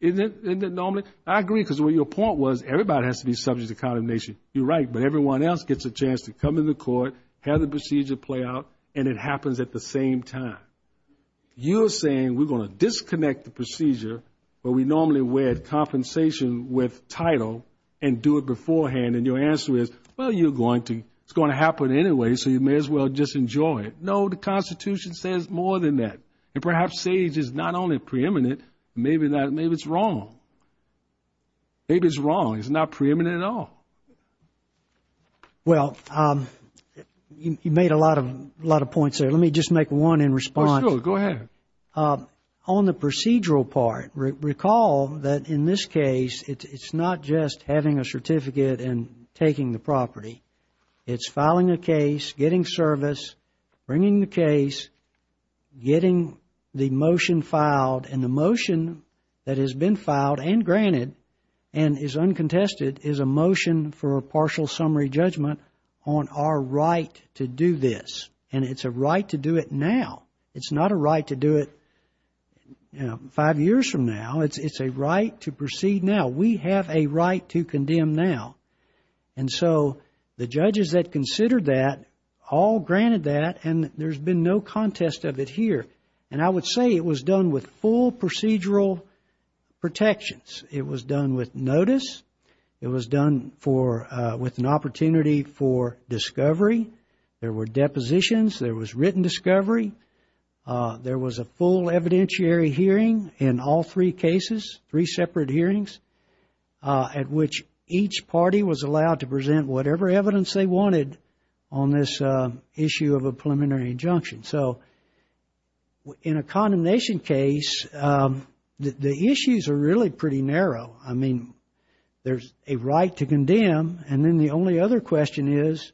Isn't it normal? I agree, because what your point was, everybody has to be subject to condemnation. You're right, but everyone else gets a chance to come in the court, have the procedure play out, and it happens at the same time. You're saying we're going to disconnect the procedure where we normally wed compensation with title and do it beforehand, and your answer is, well, you're going to. It's going to happen anyway, so you may as well just enjoy it. No, the Constitution says more than that. And perhaps SAGE is not only preeminent, maybe it's wrong. Maybe it's wrong. It's not preeminent at all. Well, you made a lot of points there. Let me just make one in response. Go ahead. On the procedural part, recall that in this case, it's not just having a certificate and taking the property. It's filing a case, getting service, bringing the case, getting the motion filed, and the motion that has been filed and granted and is uncontested is a motion for a partial summary judgment on our right to do this, and it's a right to do it now. It's not a right to do it five years from now. It's a right to proceed now. We have a right to condemn now. And so the judges that considered that all granted that, and there's been no contest of it here. And I would say it was done with full procedural protections. It was done with notice. It was done with an opportunity for discovery. There were depositions. There was written discovery. There was a full evidentiary hearing in all three cases, three separate hearings, at which each party was allowed to present whatever evidence they wanted on this issue of a preliminary injunction. So in a condemnation case, the issues are really pretty narrow. I mean, there's a right to condemn, and then the only other question is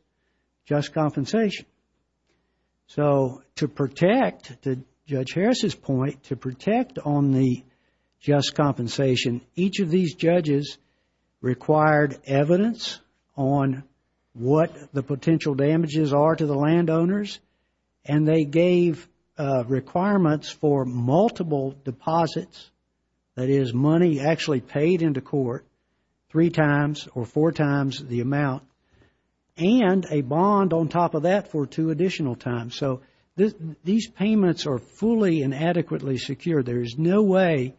just compensation. So to protect, to Judge Harris's point, to protect on the just compensation, each of these judges required evidence on what the potential damages are to the landowners, and they gave requirements for multiple deposits, that is, money actually paid into court three times or four times the amount, and a bond on top of that for two additional times. So these payments are fully and adequately secured. There's no way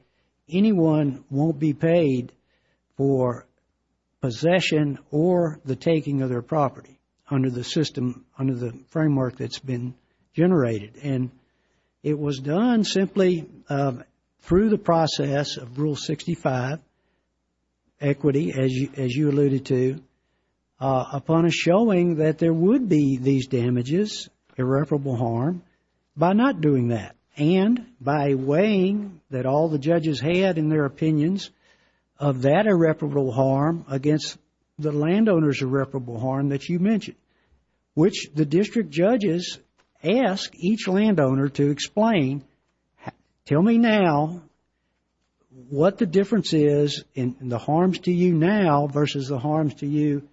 anyone won't be paid for possession or the taking of their property under the system, under the framework that's been generated. And it was done simply through the process of Rule 65, equity, as you alluded to, upon a showing that there would be these damages, irreparable harm, by not doing that, and by weighing that all the judges had in their opinions of that irreparable harm against the landowners' irreparable harm that you mentioned, which the district judges asked each landowner to explain, tell me now what the difference is in the harms to you now versus the harms to you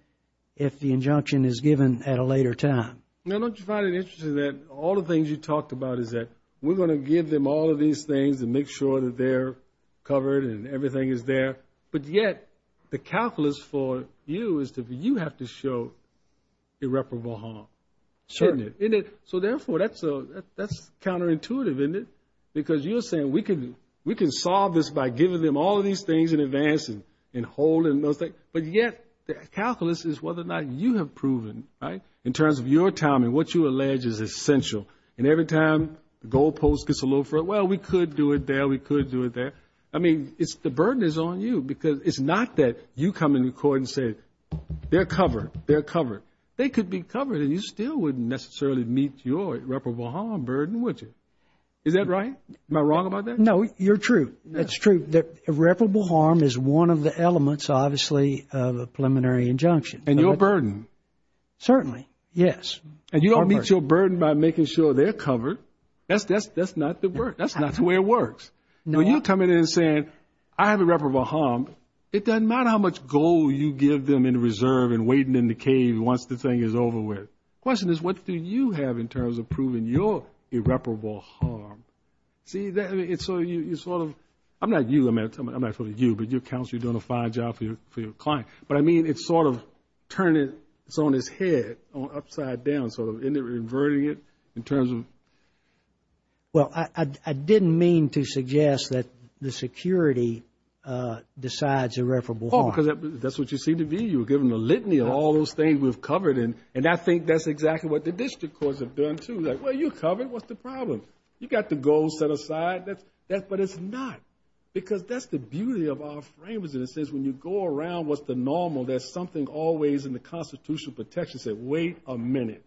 if the injunction is given at a later time. Now, don't you find it interesting that all the things you talked about is that we're going to give them all of these things and make sure that they're covered and everything is there, but yet the calculus for you is that you have to show irreparable harm, isn't it? So therefore that's counterintuitive, isn't it? Because you're saying we can solve this by giving them all of these things in advance and holding them, but yet the calculus is whether or not you have proven, right, in terms of your time and what you allege is essential, and every time the goalpost gets a little further, well, we could do it there, we could do it there. I mean, the burden is on you because it's not that you come in the court and say they're covered, they're covered. They could be covered and you still wouldn't necessarily meet your irreparable harm burden, would you? Is that right? Am I wrong about that? No, you're true. That's true. Irreparable harm is one of the elements, obviously, of a preliminary injunction. And your burden. Certainly, yes. And you don't meet your burden by making sure they're covered. That's not the way it works. When you come in and say I have irreparable harm, it doesn't matter how much gold you give them in reserve and waiting in the cave once the thing is over with. The question is what do you have in terms of proving your irreparable harm? I'm not dealing with you, but your counselor is doing a fine job for your client. But I mean it's sort of turning its head upside down, sort of inverting it in terms of. Well, I didn't mean to suggest that the security decides irreparable harm. Oh, because that's what you seem to be. You're giving a litany of all those things we've covered, and I think that's exactly what the district courts have done, too. Well, you're covered. What's the problem? You've got the gold set aside. But it's not, because that's the beauty of our framers. And it says when you go around what's the normal, there's something always in the constitutional protections that say wait a minute.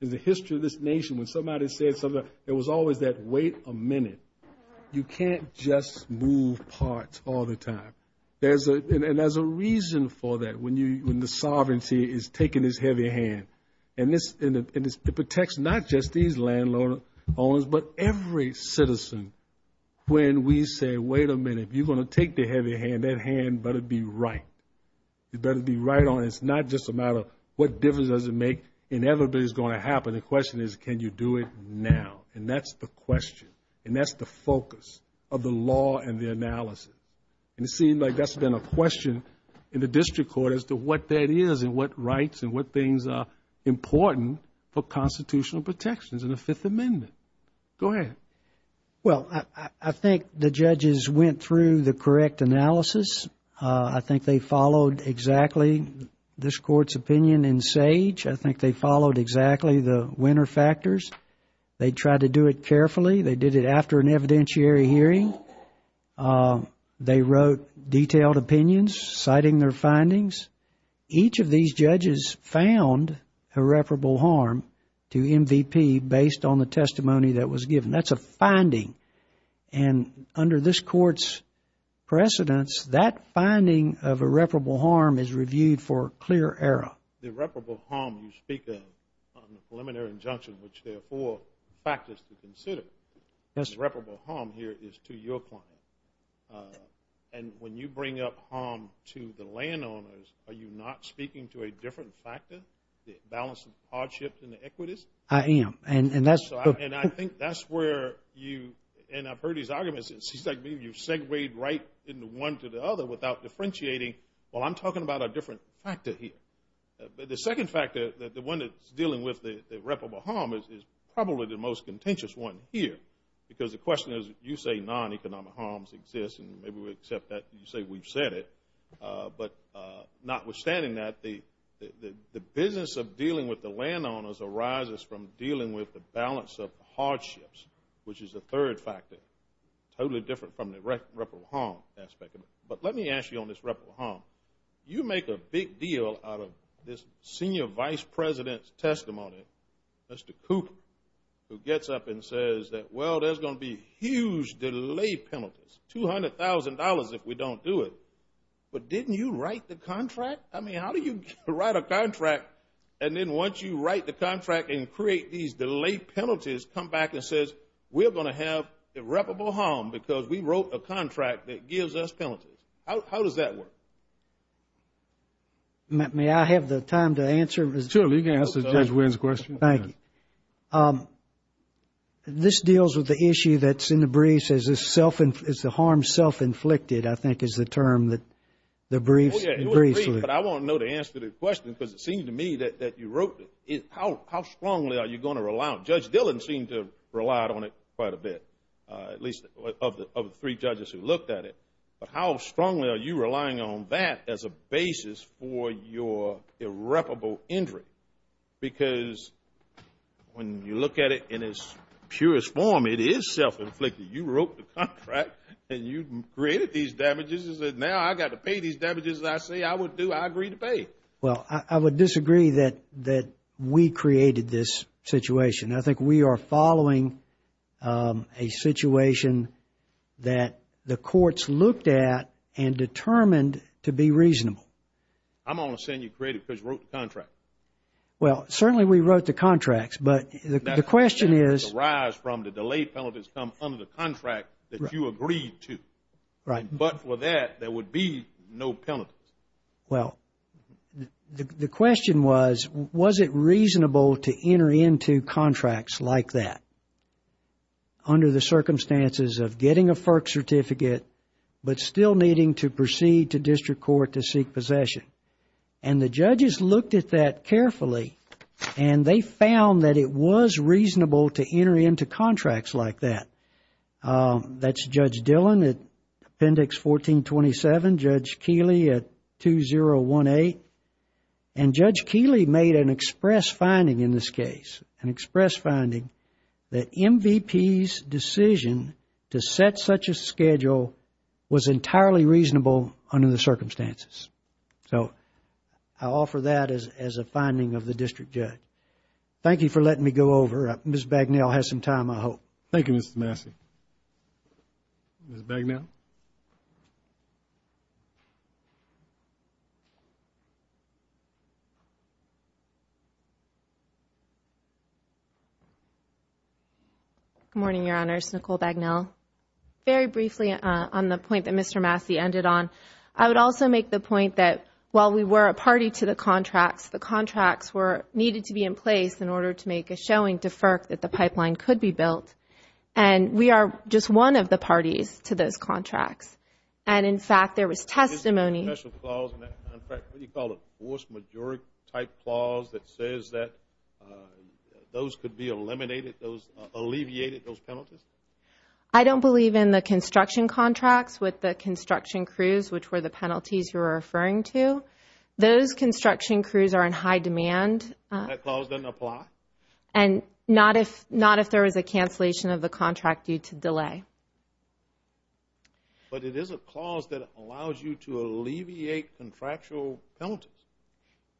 In the history of this nation, when somebody said something, there was always that wait a minute. You can't just move parts all the time. And there's a reason for that when the sovereignty is taking this heavy hand. And it protects not just these land owners but every citizen when we say wait a minute. If you're going to take the heavy hand, that hand better be right. It better be right on. It's not just a matter of what difference does it make, and everybody's going to have it. The question is can you do it now? And that's the question, and that's the focus of the law and the analysis. And it seems like that's been a question in the district court as to what that is and what rights and what things are important for constitutional protections in the Fifth Amendment. Go ahead. Well, I think the judges went through the correct analysis. I think they followed exactly this court's opinion in SAGE. I think they followed exactly the winner factors. They tried to do it carefully. They did it after an evidentiary hearing. They wrote detailed opinions citing their findings. Each of these judges found irreparable harm to MVP based on the testimony that was given. That's a finding. And under this court's precedence, that finding of irreparable harm is reviewed for clear error. The irreparable harm you speak of on the preliminary injunction, which there are four factors to consider. The irreparable harm here is to your client. And when you bring up harm to the landowners, are you not speaking to a different factor, the balance of hardships and the equities? I am. And I think that's where you – and I've heard these arguments. It seems like maybe you segwayed right into one to the other without differentiating. Well, I'm talking about a different factor here. But the second factor, the one that's dealing with the irreparable harm, is probably the most contentious one here because the question is you say non-economic harms exist and maybe we accept that. You say we've said it. But notwithstanding that, the business of dealing with the landowners arises from dealing with the balance of hardships, which is the third factor, totally different from the irreparable harm aspect of it. But let me ask you on this irreparable harm. You make a big deal out of this senior vice president's testimony, Mr. Cooper, who gets up and says that, well, there's going to be huge delay penalties, $200,000 if we don't do it. But didn't you write the contract? I mean, how do you write a contract and then once you write the contract and create these delay penalties, come back and say we're going to have irreparable harm because we wrote a contract that gives us penalties? How does that work? May I have the time to answer? You can answer Judge Wynn's question. Thank you. This deals with the issue that's in the briefs as the harm self-inflicted, I think, is the term that the briefs use. I want to know the answer to this question because it seems to me that you wrote it. How strongly are you going to rely on it? Judge Dillon seemed to have relied on it quite a bit, at least of the three judges who looked at it. But how strongly are you relying on that as a basis for your irreparable injury? Because when you look at it in its purest form, it is self-inflicted. You wrote the contract and you created these damages. Now I've got to pay these damages. I say I would do it. I agree to pay it. Well, I would disagree that we created this situation. I think we are following a situation that the courts looked at and determined to be reasonable. I'm only saying you created it because you wrote the contract. Well, certainly we wrote the contracts. But the question is... The damages that arise from the delayed penalties come under the contract that you agreed to. Right. But for that, there would be no penalty. Well, the question was, was it reasonable to enter into contracts like that under the circumstances of getting a FERC certificate but still needing to proceed to district court to seek possession? And the judges looked at that carefully and they found that it was reasonable to enter into contracts like that. That's Judge Dillon at Appendix 1427, Judge Keeley at 201A. And Judge Keeley made an express finding in this case, an express finding, that MVP's decision to set such a schedule was entirely reasonable under the circumstances. So I offer that as a finding of the district judge. Thank you for letting me go over. Ms. Bagnell has some time, I hope. Thank you, Mr. Massey. Ms. Bagnell? Good morning, Your Honors. Nicole Bagnell. Very briefly on the point that Mr. Massey ended on, I would also make the point that while we were a party to the contracts, the contracts needed to be in place in order to make a showing to FERC that the pipeline could be built. And we are just one of the parties to those contracts. And, in fact, there was testimony... What do you call it? A force majeure type clause that says that those could be eliminated, those alleviated, those penalties? I don't believe in the construction contracts with the construction crews, which were the penalties you were referring to. Those construction crews are in high demand. That clause doesn't apply? But it is a clause that allows you to alleviate contractual penalties.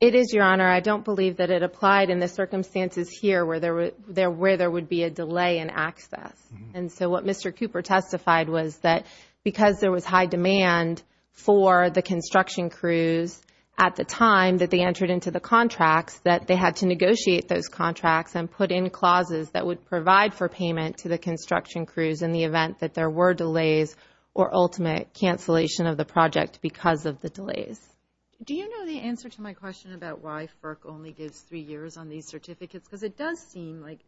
It is, Your Honor. I don't believe that it applied in the circumstances here where there would be a delay in access. And so what Mr. Cooper testified was that because there was high demand for the construction crews at the time that they entered into the contracts, that they had to negotiate those contracts and put in clauses that would provide for payment to the construction crews in the event that there were delays or ultimate cancellation of the project because of the delays. Do you know the answer to my question about why FERC only gives three years on these certificates? Because it does seem like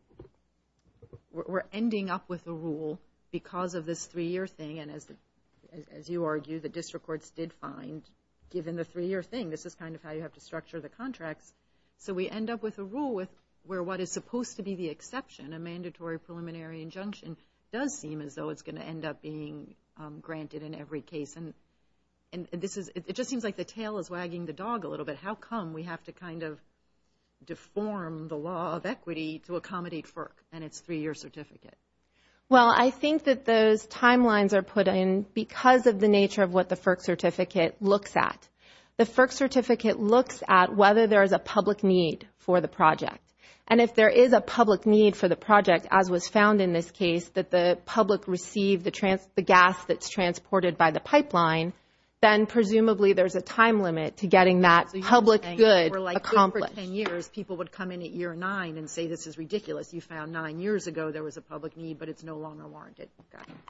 we're ending up with a rule because of this three-year thing. And, as you argue, the district courts did fine given the three-year thing. This is kind of how you have to structure the contract. So we end up with a rule where what is supposed to be the exception, a mandatory preliminary injunction, does seem as though it's going to end up being granted in every case. And it just seems like the tail is wagging the dog a little bit. How come we have to kind of deform the law of equity to accommodate FERC and its three-year certificate? Well, I think that those timelines are put in because of the nature of what the FERC certificate looks at. The FERC certificate looks at whether there is a public need for the project. And if there is a public need for the project, as was found in this case, that the public receive the gas that's transported by the pipeline, then presumably there's a time limit to getting that public good accomplished. People would come in at year nine and say this is ridiculous. You found nine years ago there was a public need, but it's no longer warranted.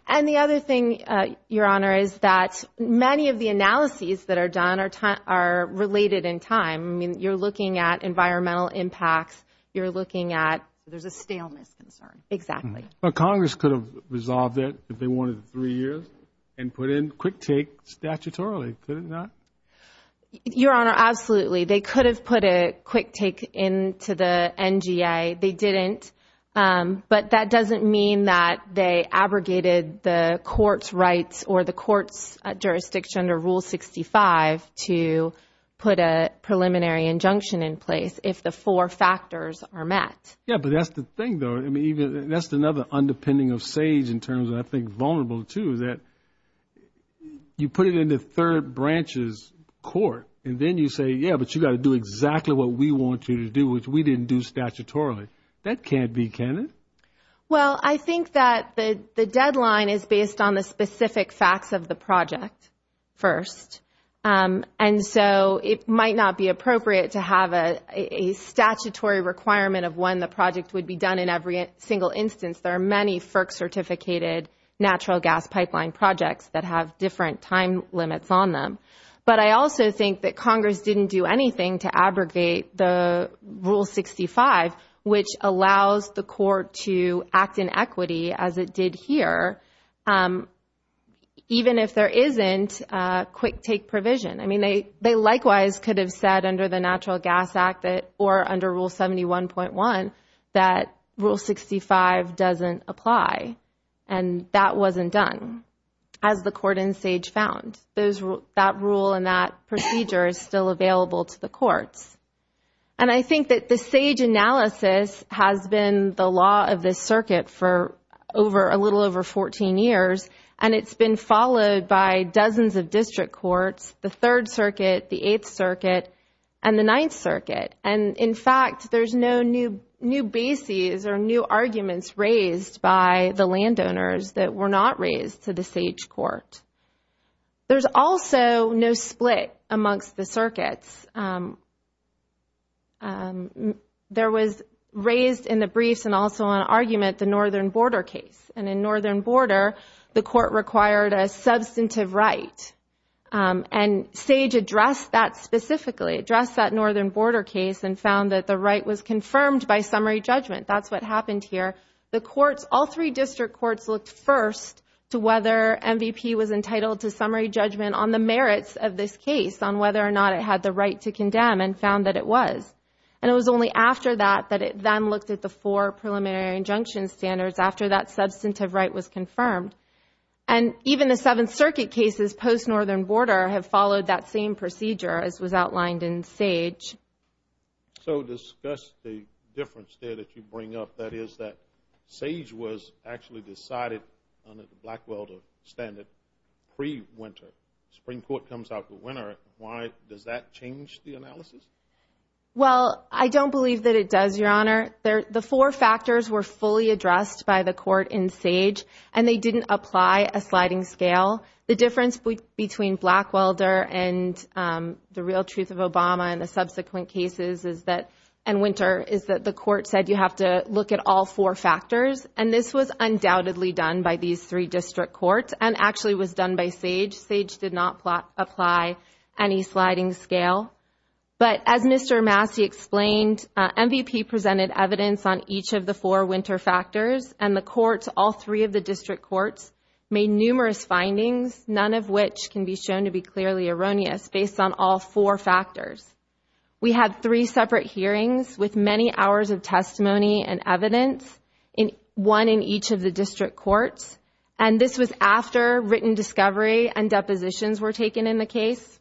And the other thing, Your Honor, is that many of the analyses that are done are related in time. You're looking at environmental impacts. You're looking at there's a stalemate. Exactly. Well, Congress could have resolved it if they wanted three years and put in quick take statutorily, could it not? Your Honor, absolutely. They could have put a quick take into the NGA. They didn't. But that doesn't mean that they abrogated the court's rights or the court's jurisdiction under Rule 65 to put a preliminary injunction in place if the four factors are met. Yeah, but that's the thing, though. I mean, that's another underpinning of SAGE in terms of I think vulnerable, too, that you put it in the third branch's court and then you say, yeah, but you've got to do exactly what we want you to do, which we didn't do statutorily. That can't be, can it? Well, I think that the deadline is based on the specific facts of the project first. And so it might not be appropriate to have a statutory requirement of when the project would be done in every single instance. There are many FERC-certificated natural gas pipeline projects that have different time limits on them. But I also think that Congress didn't do anything to abrogate the Rule 65, which allows the court to act in equity as it did here, even if there isn't a quick take provision. I mean, they likewise could have said under the Natural Gas Act or under Rule 71.1 that Rule 65 doesn't apply. And that wasn't done, as the court in SAGE found. That rule and that procedure is still available to the courts. And I think that the SAGE analysis has been the law of this circuit for a little over 14 years, and it's been followed by dozens of district courts, the Third Circuit, the Eighth Circuit, and the Ninth Circuit. And, in fact, there's no new bases or new arguments raised by the landowners that were not raised to the SAGE court. There's also no split amongst the circuits. There was raised in the briefs and also on argument the northern border case. And in northern border, the court required a substantive right. And SAGE addressed that specifically, addressed that northern border case and found that the right was confirmed by summary judgment. That's what happened here. All three district courts looked first to whether MVP was entitled to summary judgment on the merits of this case, on whether or not it had the right to condemn, and found that it was. And it was only after that that it then looked at the four preliminary injunction standards after that substantive right was confirmed. And even the Seventh Circuit cases post-northern border have followed that same procedure as was outlined in SAGE. So discuss the difference there that you bring up, that is that SAGE was actually decided under the Blackwell standard pre-winter. The Supreme Court comes out the winter. Why does that change the analysis? Well, I don't believe that it does, Your Honor. The four factors were fully addressed by the court in SAGE, and they didn't apply a sliding scale. The difference between Blackwell and the real truth of Obama and the subsequent cases is that, in winter, is that the court said you have to look at all four factors. And this was undoubtedly done by these three district courts and actually was done by SAGE. SAGE did not apply any sliding scale. But as Mr. Massey explained, MVP presented evidence on each of the four winter factors, and the courts, all three of the district courts, made numerous findings, none of which can be shown to be clearly erroneous based on all four factors. We had three separate hearings with many hours of testimony and evidence, one in each of the district courts. And this was after written discovery and depositions were taken in the case.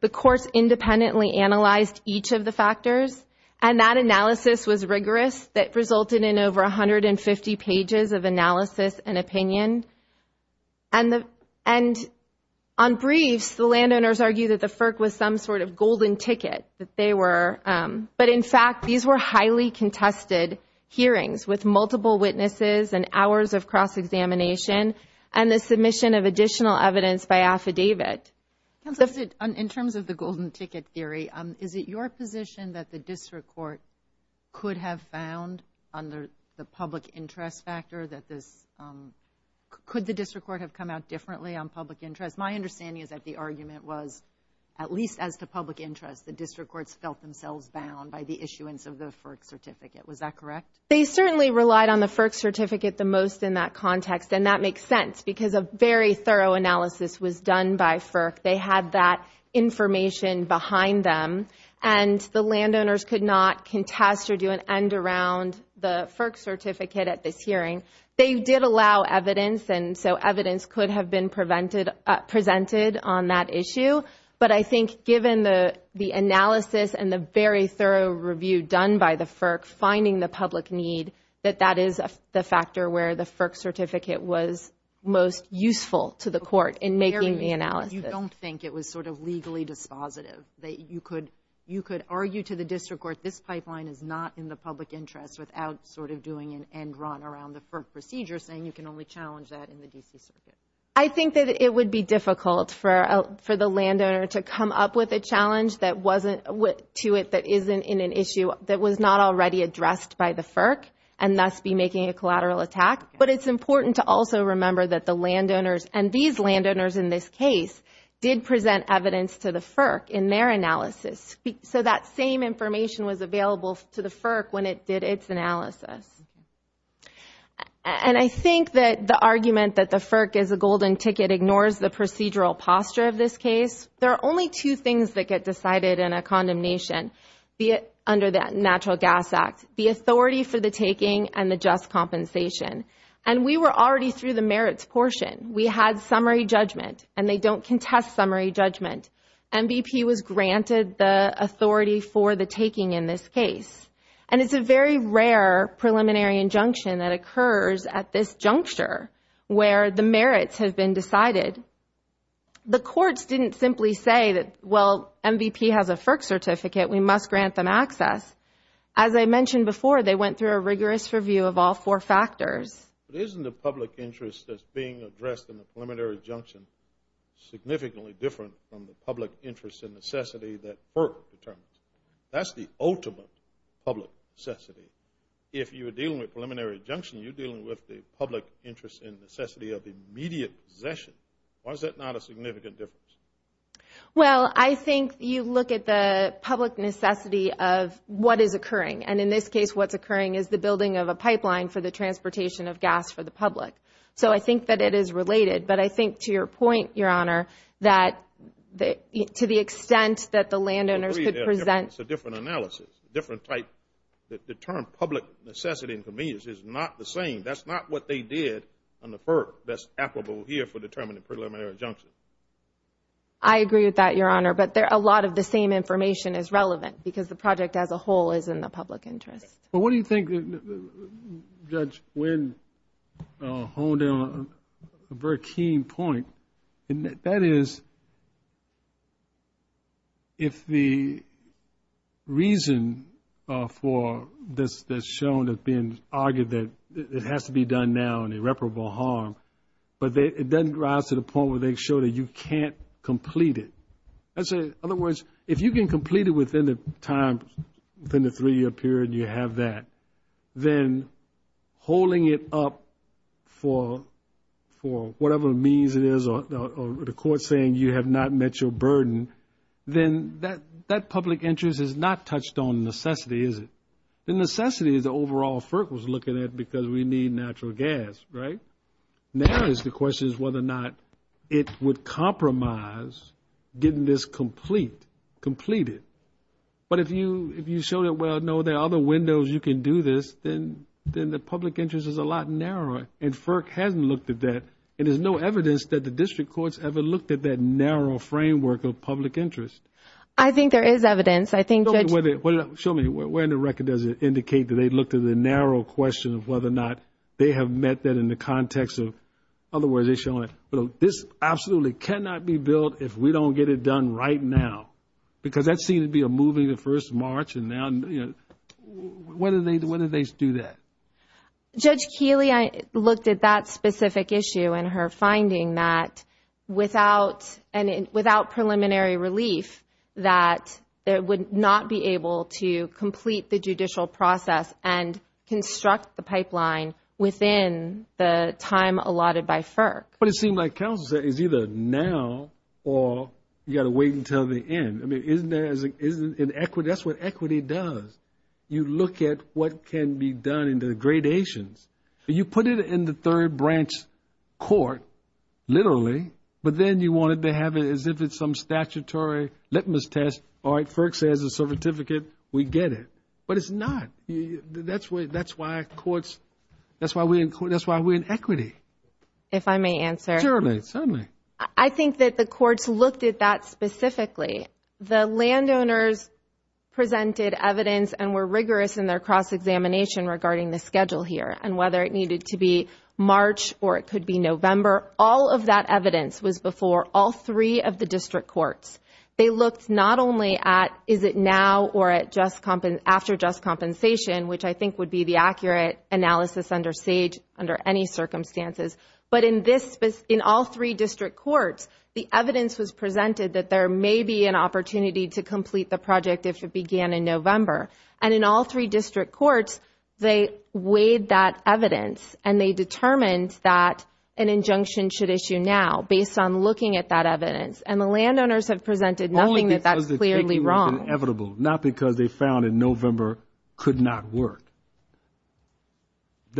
The courts independently analyzed each of the factors, and that analysis was rigorous that resulted in over 150 pages of analysis and opinion. And on briefs, the landowners argued that the FERC was some sort of golden ticket, that they were. But, in fact, these were highly contested hearings with multiple witnesses and hours of cross-examination and the submission of additional evidence by affidavit. In terms of the golden ticket theory, is it your position that the district court could have found under the public interest factor that this, could the district court have come out differently on public interest? My understanding is that the argument was, at least as to public interest, the district courts felt themselves bound by the issuance of the FERC certificate. Was that correct? They certainly relied on the FERC certificate the most in that context, and that makes sense because a very thorough analysis was done by FERC. They had that information behind them, and the landowners could not contest or do an end around the FERC certificate at this hearing. They did allow evidence, and so evidence could have been presented on that issue. But I think given the analysis and the very thorough review done by the FERC, that that is the factor where the FERC certificate was most useful to the court in making the analysis. You don't think it was sort of legally dispositive that you could argue to the district court, this pipeline is not in the public interest, without sort of doing an end run around the FERC procedure, saying you can only challenge that in the district court? I think that it would be difficult for the landowner to come up with a challenge that wasn't, to it that isn't in an issue that was not already addressed by the FERC, and thus be making a collateral attack. But it's important to also remember that the landowners, and these landowners in this case did present evidence to the FERC in their analysis. So that same information was available to the FERC when it did its analysis. And I think that the argument that the FERC is a golden ticket ignores the procedural posture of this case. There are only two things that get decided in a condemnation under the Natural Gas Act, the authority for the taking and the just compensation. And we were already through the merits portion. We had summary judgment, and they don't contest summary judgment. MVP was granted the authority for the taking in this case. And it's a very rare preliminary injunction that occurs at this juncture where the merits have been decided. The courts didn't simply say that, well, MVP has a FERC certificate. We must grant them access. As I mentioned before, they went through a rigorous review of all four factors. But isn't the public interest that's being addressed in the preliminary injunction significantly different from the public interest and necessity that FERC determines? That's the ultimate public necessity. If you're dealing with preliminary injunction, you're dealing with the public interest and necessity of immediate possession. Why is that not a significant difference? Well, I think you look at the public necessity of what is occurring. And in this case, what's occurring is the building of a pipeline for the transportation of gas for the public. So I think that it is related. But I think to your point, Your Honor, that to the extent that the landowner should present – It's a different analysis, different type. The term public necessity and convenience is not the same. That's not what they did on the FERC that's applicable here for determining preliminary injunction. I agree with that, Your Honor. But a lot of the same information is relevant because the project as a whole is in the public interest. But what do you think, Judge Wynn, holding on to a very keen point, and that is if the reason for this that's shown has been argued that it has to be done now and irreparable harm, but it doesn't rise to the point where they show that you can't complete it. In other words, if you can complete it within the three-year period you have that, then holding it up for whatever means it is or the court saying you have not met your burden, then that public interest is not touched on necessity, is it? The necessity is the overall FERC was looking at because we need natural gas, right? And now the question is whether or not it would compromise getting this completed. But if you show that, well, no, there are other windows you can do this, then the public interest is a lot narrower, and FERC hasn't looked at that, and there's no evidence that the district courts ever looked at that narrow framework of public interest. I think there is evidence. Show me. Where in the record does it indicate that they looked at the narrow question of whether or not they have met that in the context of, in other words, they're showing this absolutely cannot be built if we don't get it done right now, because that seems to be a moving to 1st of March. When did they do that? Judge Keeley looked at that specific issue in her finding that without preliminary relief, that it would not be able to complete the judicial process and construct the pipeline within the time allotted by FERC. But it seemed like counsel said it's either now or you've got to wait until the end. I mean, isn't there an equity? That's what equity does. You look at what can be done in the gradations. You put it in the third branch court, literally, but then you wanted to have it as if it's some statutory litmus test. All right, FERC says it's a certificate. We get it. But it's not. That's why courts – that's why we're in equity. If I may answer. Certainly. Tell me. I think that the courts looked at that specifically. The landowners presented evidence and were rigorous in their cross-examination regarding the schedule here and whether it needed to be March or it could be November. All of that evidence was before all three of the district courts. They looked not only at is it now or after just compensation, which I think would be the accurate analysis under any circumstances, but in all three district courts, the evidence was presented that there may be an opportunity to complete the project if it began in November. And in all three district courts, they weighed that evidence and they determined that an injunction should issue now, based on looking at that evidence. And the landowners have presented knowing that that's clearly wrong. Not because they found in November could not work.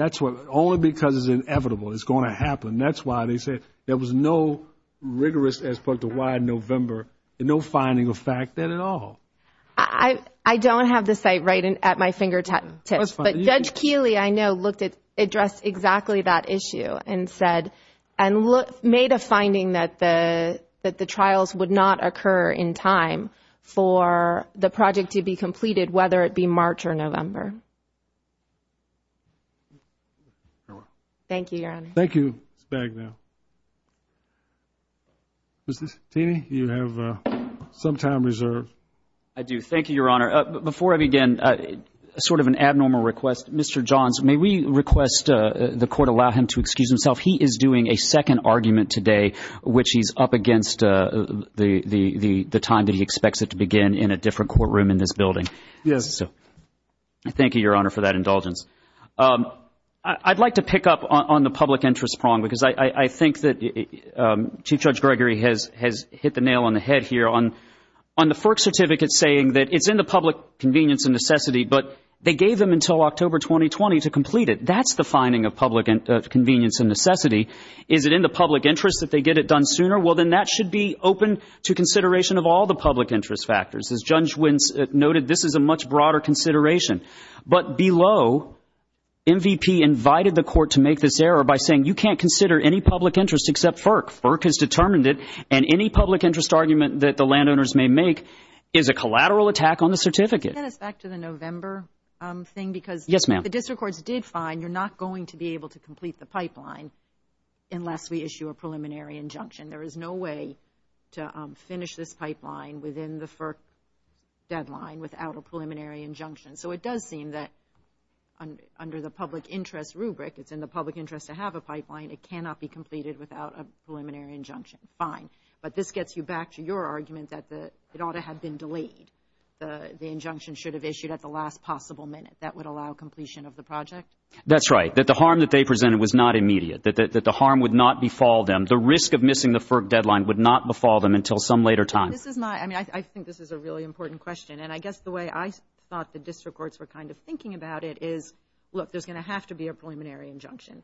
Only because it's inevitable it's going to happen. That's why they said there was no rigorous aspect of why November, no finding of fact then at all. I don't have the site right at my fingertips. But Judge Keeley, I know, addressed exactly that issue and made a finding that the trials would not occur in time for the project to be completed, whether it be March or November. Thank you, Your Honor. Thank you, Bagnell. Mr. Satini, you have some time reserved. I do. Thank you, Your Honor. Before I begin, sort of an abnormal request. Mr. Johns, may we request the court allow him to excuse himself? He is doing a second argument today, which he's up against the time that he expects it to begin in a different courtroom in this building. Yes. Thank you, Your Honor, for that indulgence. I'd like to pick up on the public interest prong because I think that Chief Judge Gregory has hit the nail on the head here. On the FERC certificate saying that it's in the public convenience and necessity, but they gave them until October 2020 to complete it. That's the finding of public convenience and necessity. Is it in the public interest that they get it done sooner? Well, then that should be open to consideration of all the public interest factors. As Judge Wentz noted, this is a much broader consideration. But below, MVP invited the court to make this error by saying, you can't consider any public interest except FERC. FERC has determined it, and any public interest argument that the landowners may make is a collateral attack on the certificate. Can you get us back to the November thing? Yes, ma'am. Because the district courts did find you're not going to be able to complete the pipeline unless we issue a preliminary injunction. There is no way to finish this pipeline within the FERC deadline without a preliminary injunction. So it does seem that under the public interest rubric, it's in the public interest to have a pipeline. It cannot be completed without a preliminary injunction. Fine. But this gets you back to your argument that it ought to have been delayed. The injunction should have issued at the last possible minute. That would allow completion of the project? That's right, that the harm that they presented was not immediate, that the harm would not befall them. The risk of missing the FERC deadline would not befall them until some later time. I think this is a really important question, and I guess the way I thought the district courts were kind of thinking about it is, look, there's going to have to be a preliminary injunction.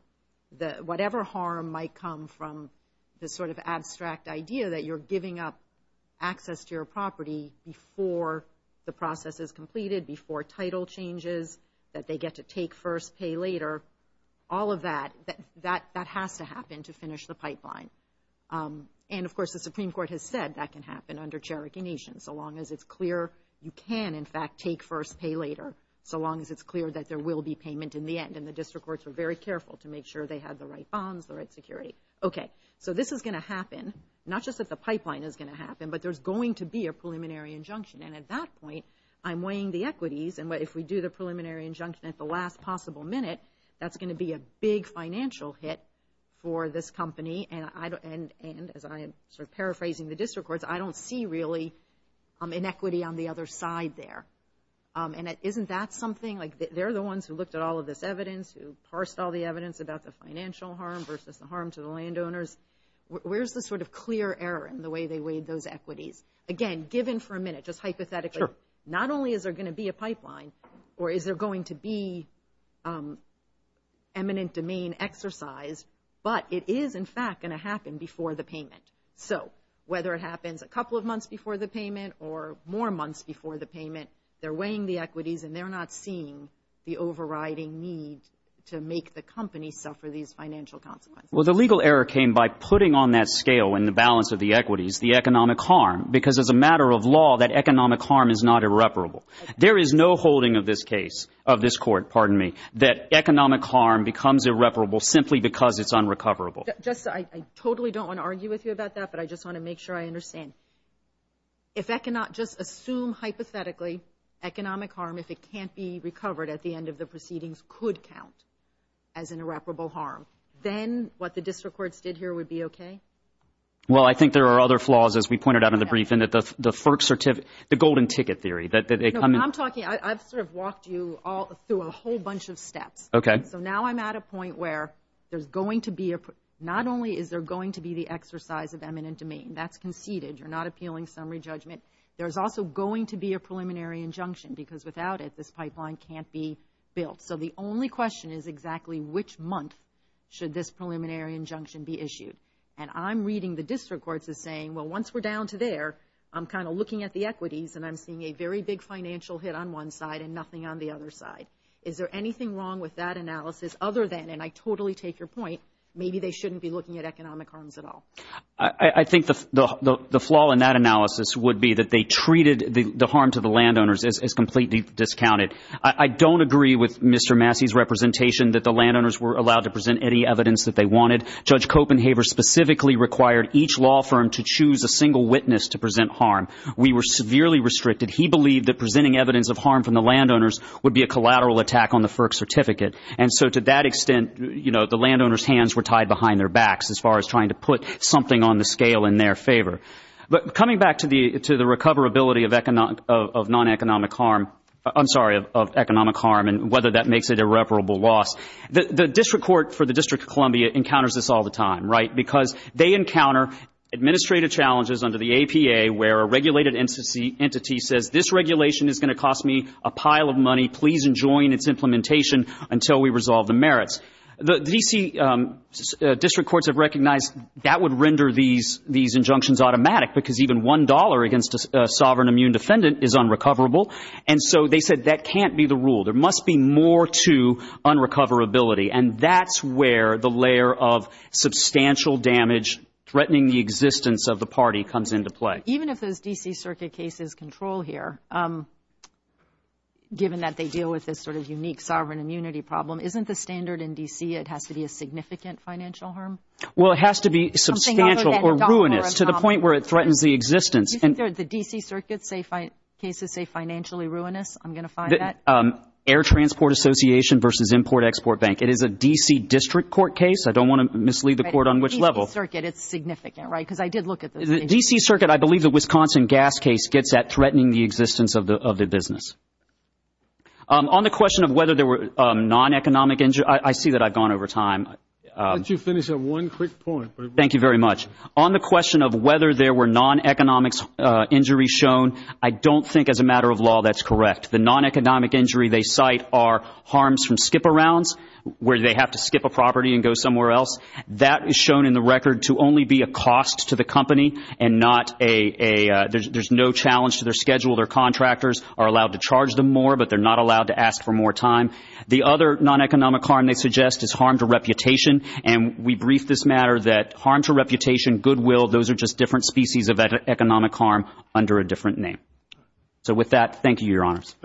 Whatever harm might come from the sort of abstract idea that you're giving up access to your property before the process is completed, before title changes, that they get to take first, pay later, all of that, that has to happen to finish the pipeline. And, of course, the Supreme Court has said that can happen under Cherokee Nation, so long as it's clear you can, in fact, take first, pay later, so long as it's clear that there will be payment in the end. And the district courts were very careful to make sure they had the right bonds, the right security. Okay, so this is going to happen, not just that the pipeline is going to happen, but there's going to be a preliminary injunction. And at that point, I'm weighing the equities, and if we do the preliminary injunction at the last possible minute, that's going to be a big financial hit for this company. And as I am sort of paraphrasing the district courts, I don't see really inequity on the other side there. And isn't that something? Like, they're the ones who looked at all of this evidence, who parsed all the evidence about the financial harm versus the harm to the landowners. Where's the sort of clear error in the way they weighed those equities? Again, given for a minute, just hypothetically, not only is there going to be a pipeline, or is there going to be eminent domain exercise, but it is, in fact, going to happen before the payment. So, whether it happens a couple of months before the payment or more months before the payment, they're weighing the equities, and they're not seeing the overriding need to make the company suffer these financial consequences. Well, the legal error came by putting on that scale and the balance of the equities, the economic harm, because as a matter of law, that economic harm is not irreparable. There is no holding of this case, of this court, pardon me, that economic harm becomes irreparable simply because it's unrecoverable. I totally don't want to argue with you about that, but I just want to make sure I understand. If I cannot just assume, hypothetically, economic harm, if it can't be recovered at the end of the proceedings could count as an irreparable harm, then what the district courts did here would be okay? Well, I think there are other flaws, as we pointed out in the briefing, that the FERC certificate, the golden ticket theory, that they come... I'm talking, I've sort of walked you through a whole bunch of steps. Okay. So now I'm at a point where there's going to be a... not only is there going to be the exercise of eminent domain, that's conceded, you're not appealing summary judgment, there's also going to be a preliminary injunction because without it, this pipeline can't be built. So the only question is exactly which month should this preliminary injunction be issued? And I'm reading the district courts as saying, well, once we're down to there, I'm kind of looking at the equities and I'm seeing a very big financial hit on one side and nothing on the other side. Is there anything wrong with that analysis other than, and I totally take your point, maybe they shouldn't be looking at economic harms at all? I think the flaw in that analysis would be that they treated the harm to the landowners as completely discounted. I don't agree with Mr. Massey's representation that the landowners were allowed to present any evidence that they wanted. Judge Copenhaver specifically required each law firm to choose a single witness to present harm. We were severely restricted. He believed that presenting evidence of harm from the landowners would be a collateral attack on the FERC certificate. And so to that extent, you know, the landowners' hands were tied behind their backs as far as trying to put something on the scale in their favor. But coming back to the recoverability of non-economic harm, I'm sorry, of economic harm and whether that makes it irreparable loss, the district court for the District of Columbia encounters this all the time, right, because they encounter administrative challenges under the APA where a regulated entity says, this regulation is going to cost me a pile of money. Please enjoin its implementation until we resolve the merits. The DC district courts have recognized that would render these injunctions automatic because even $1 against a sovereign immune defendant is unrecoverable. And so they said that can't be the rule. There must be more to unrecoverability. And that's where the layer of substantial damage threatening the existence of the party comes into play. Even if those DC circuit cases control here, given that they deal with this sort of unique sovereign immunity problem, isn't the standard in DC it has to be a significant financial harm? Well, it has to be substantial or ruinous to the point where it threatens the existence. The DC circuit cases say financially ruinous, I'm going to find that. Air Transport Association versus Import Export Bank. It is a DC district court case. I don't want to mislead the court on which level. It's significant, right, because I did look at those. The DC circuit, I believe the Wisconsin gas case gets that threatening the existence of the business. On the question of whether there were non-economic injuries, I see that I've gone over time. Why don't you finish on one quick point? Thank you very much. On the question of whether there were non-economic injuries shown, I don't think as a matter of law that's correct. The non-economic injury they cite are harms from skip arounds where they have to skip a property and go somewhere else. That is shown in the record to only be a cost to the company and not a – there's no challenge to their schedule. Their contractors are allowed to charge them more, but they're not allowed to ask for more time. The other non-economic harm they suggest is harm to reputation, and we briefed this matter that harm to reputation, goodwill, those are just different species of economic harm under a different name. With that, thank you, Your Honors.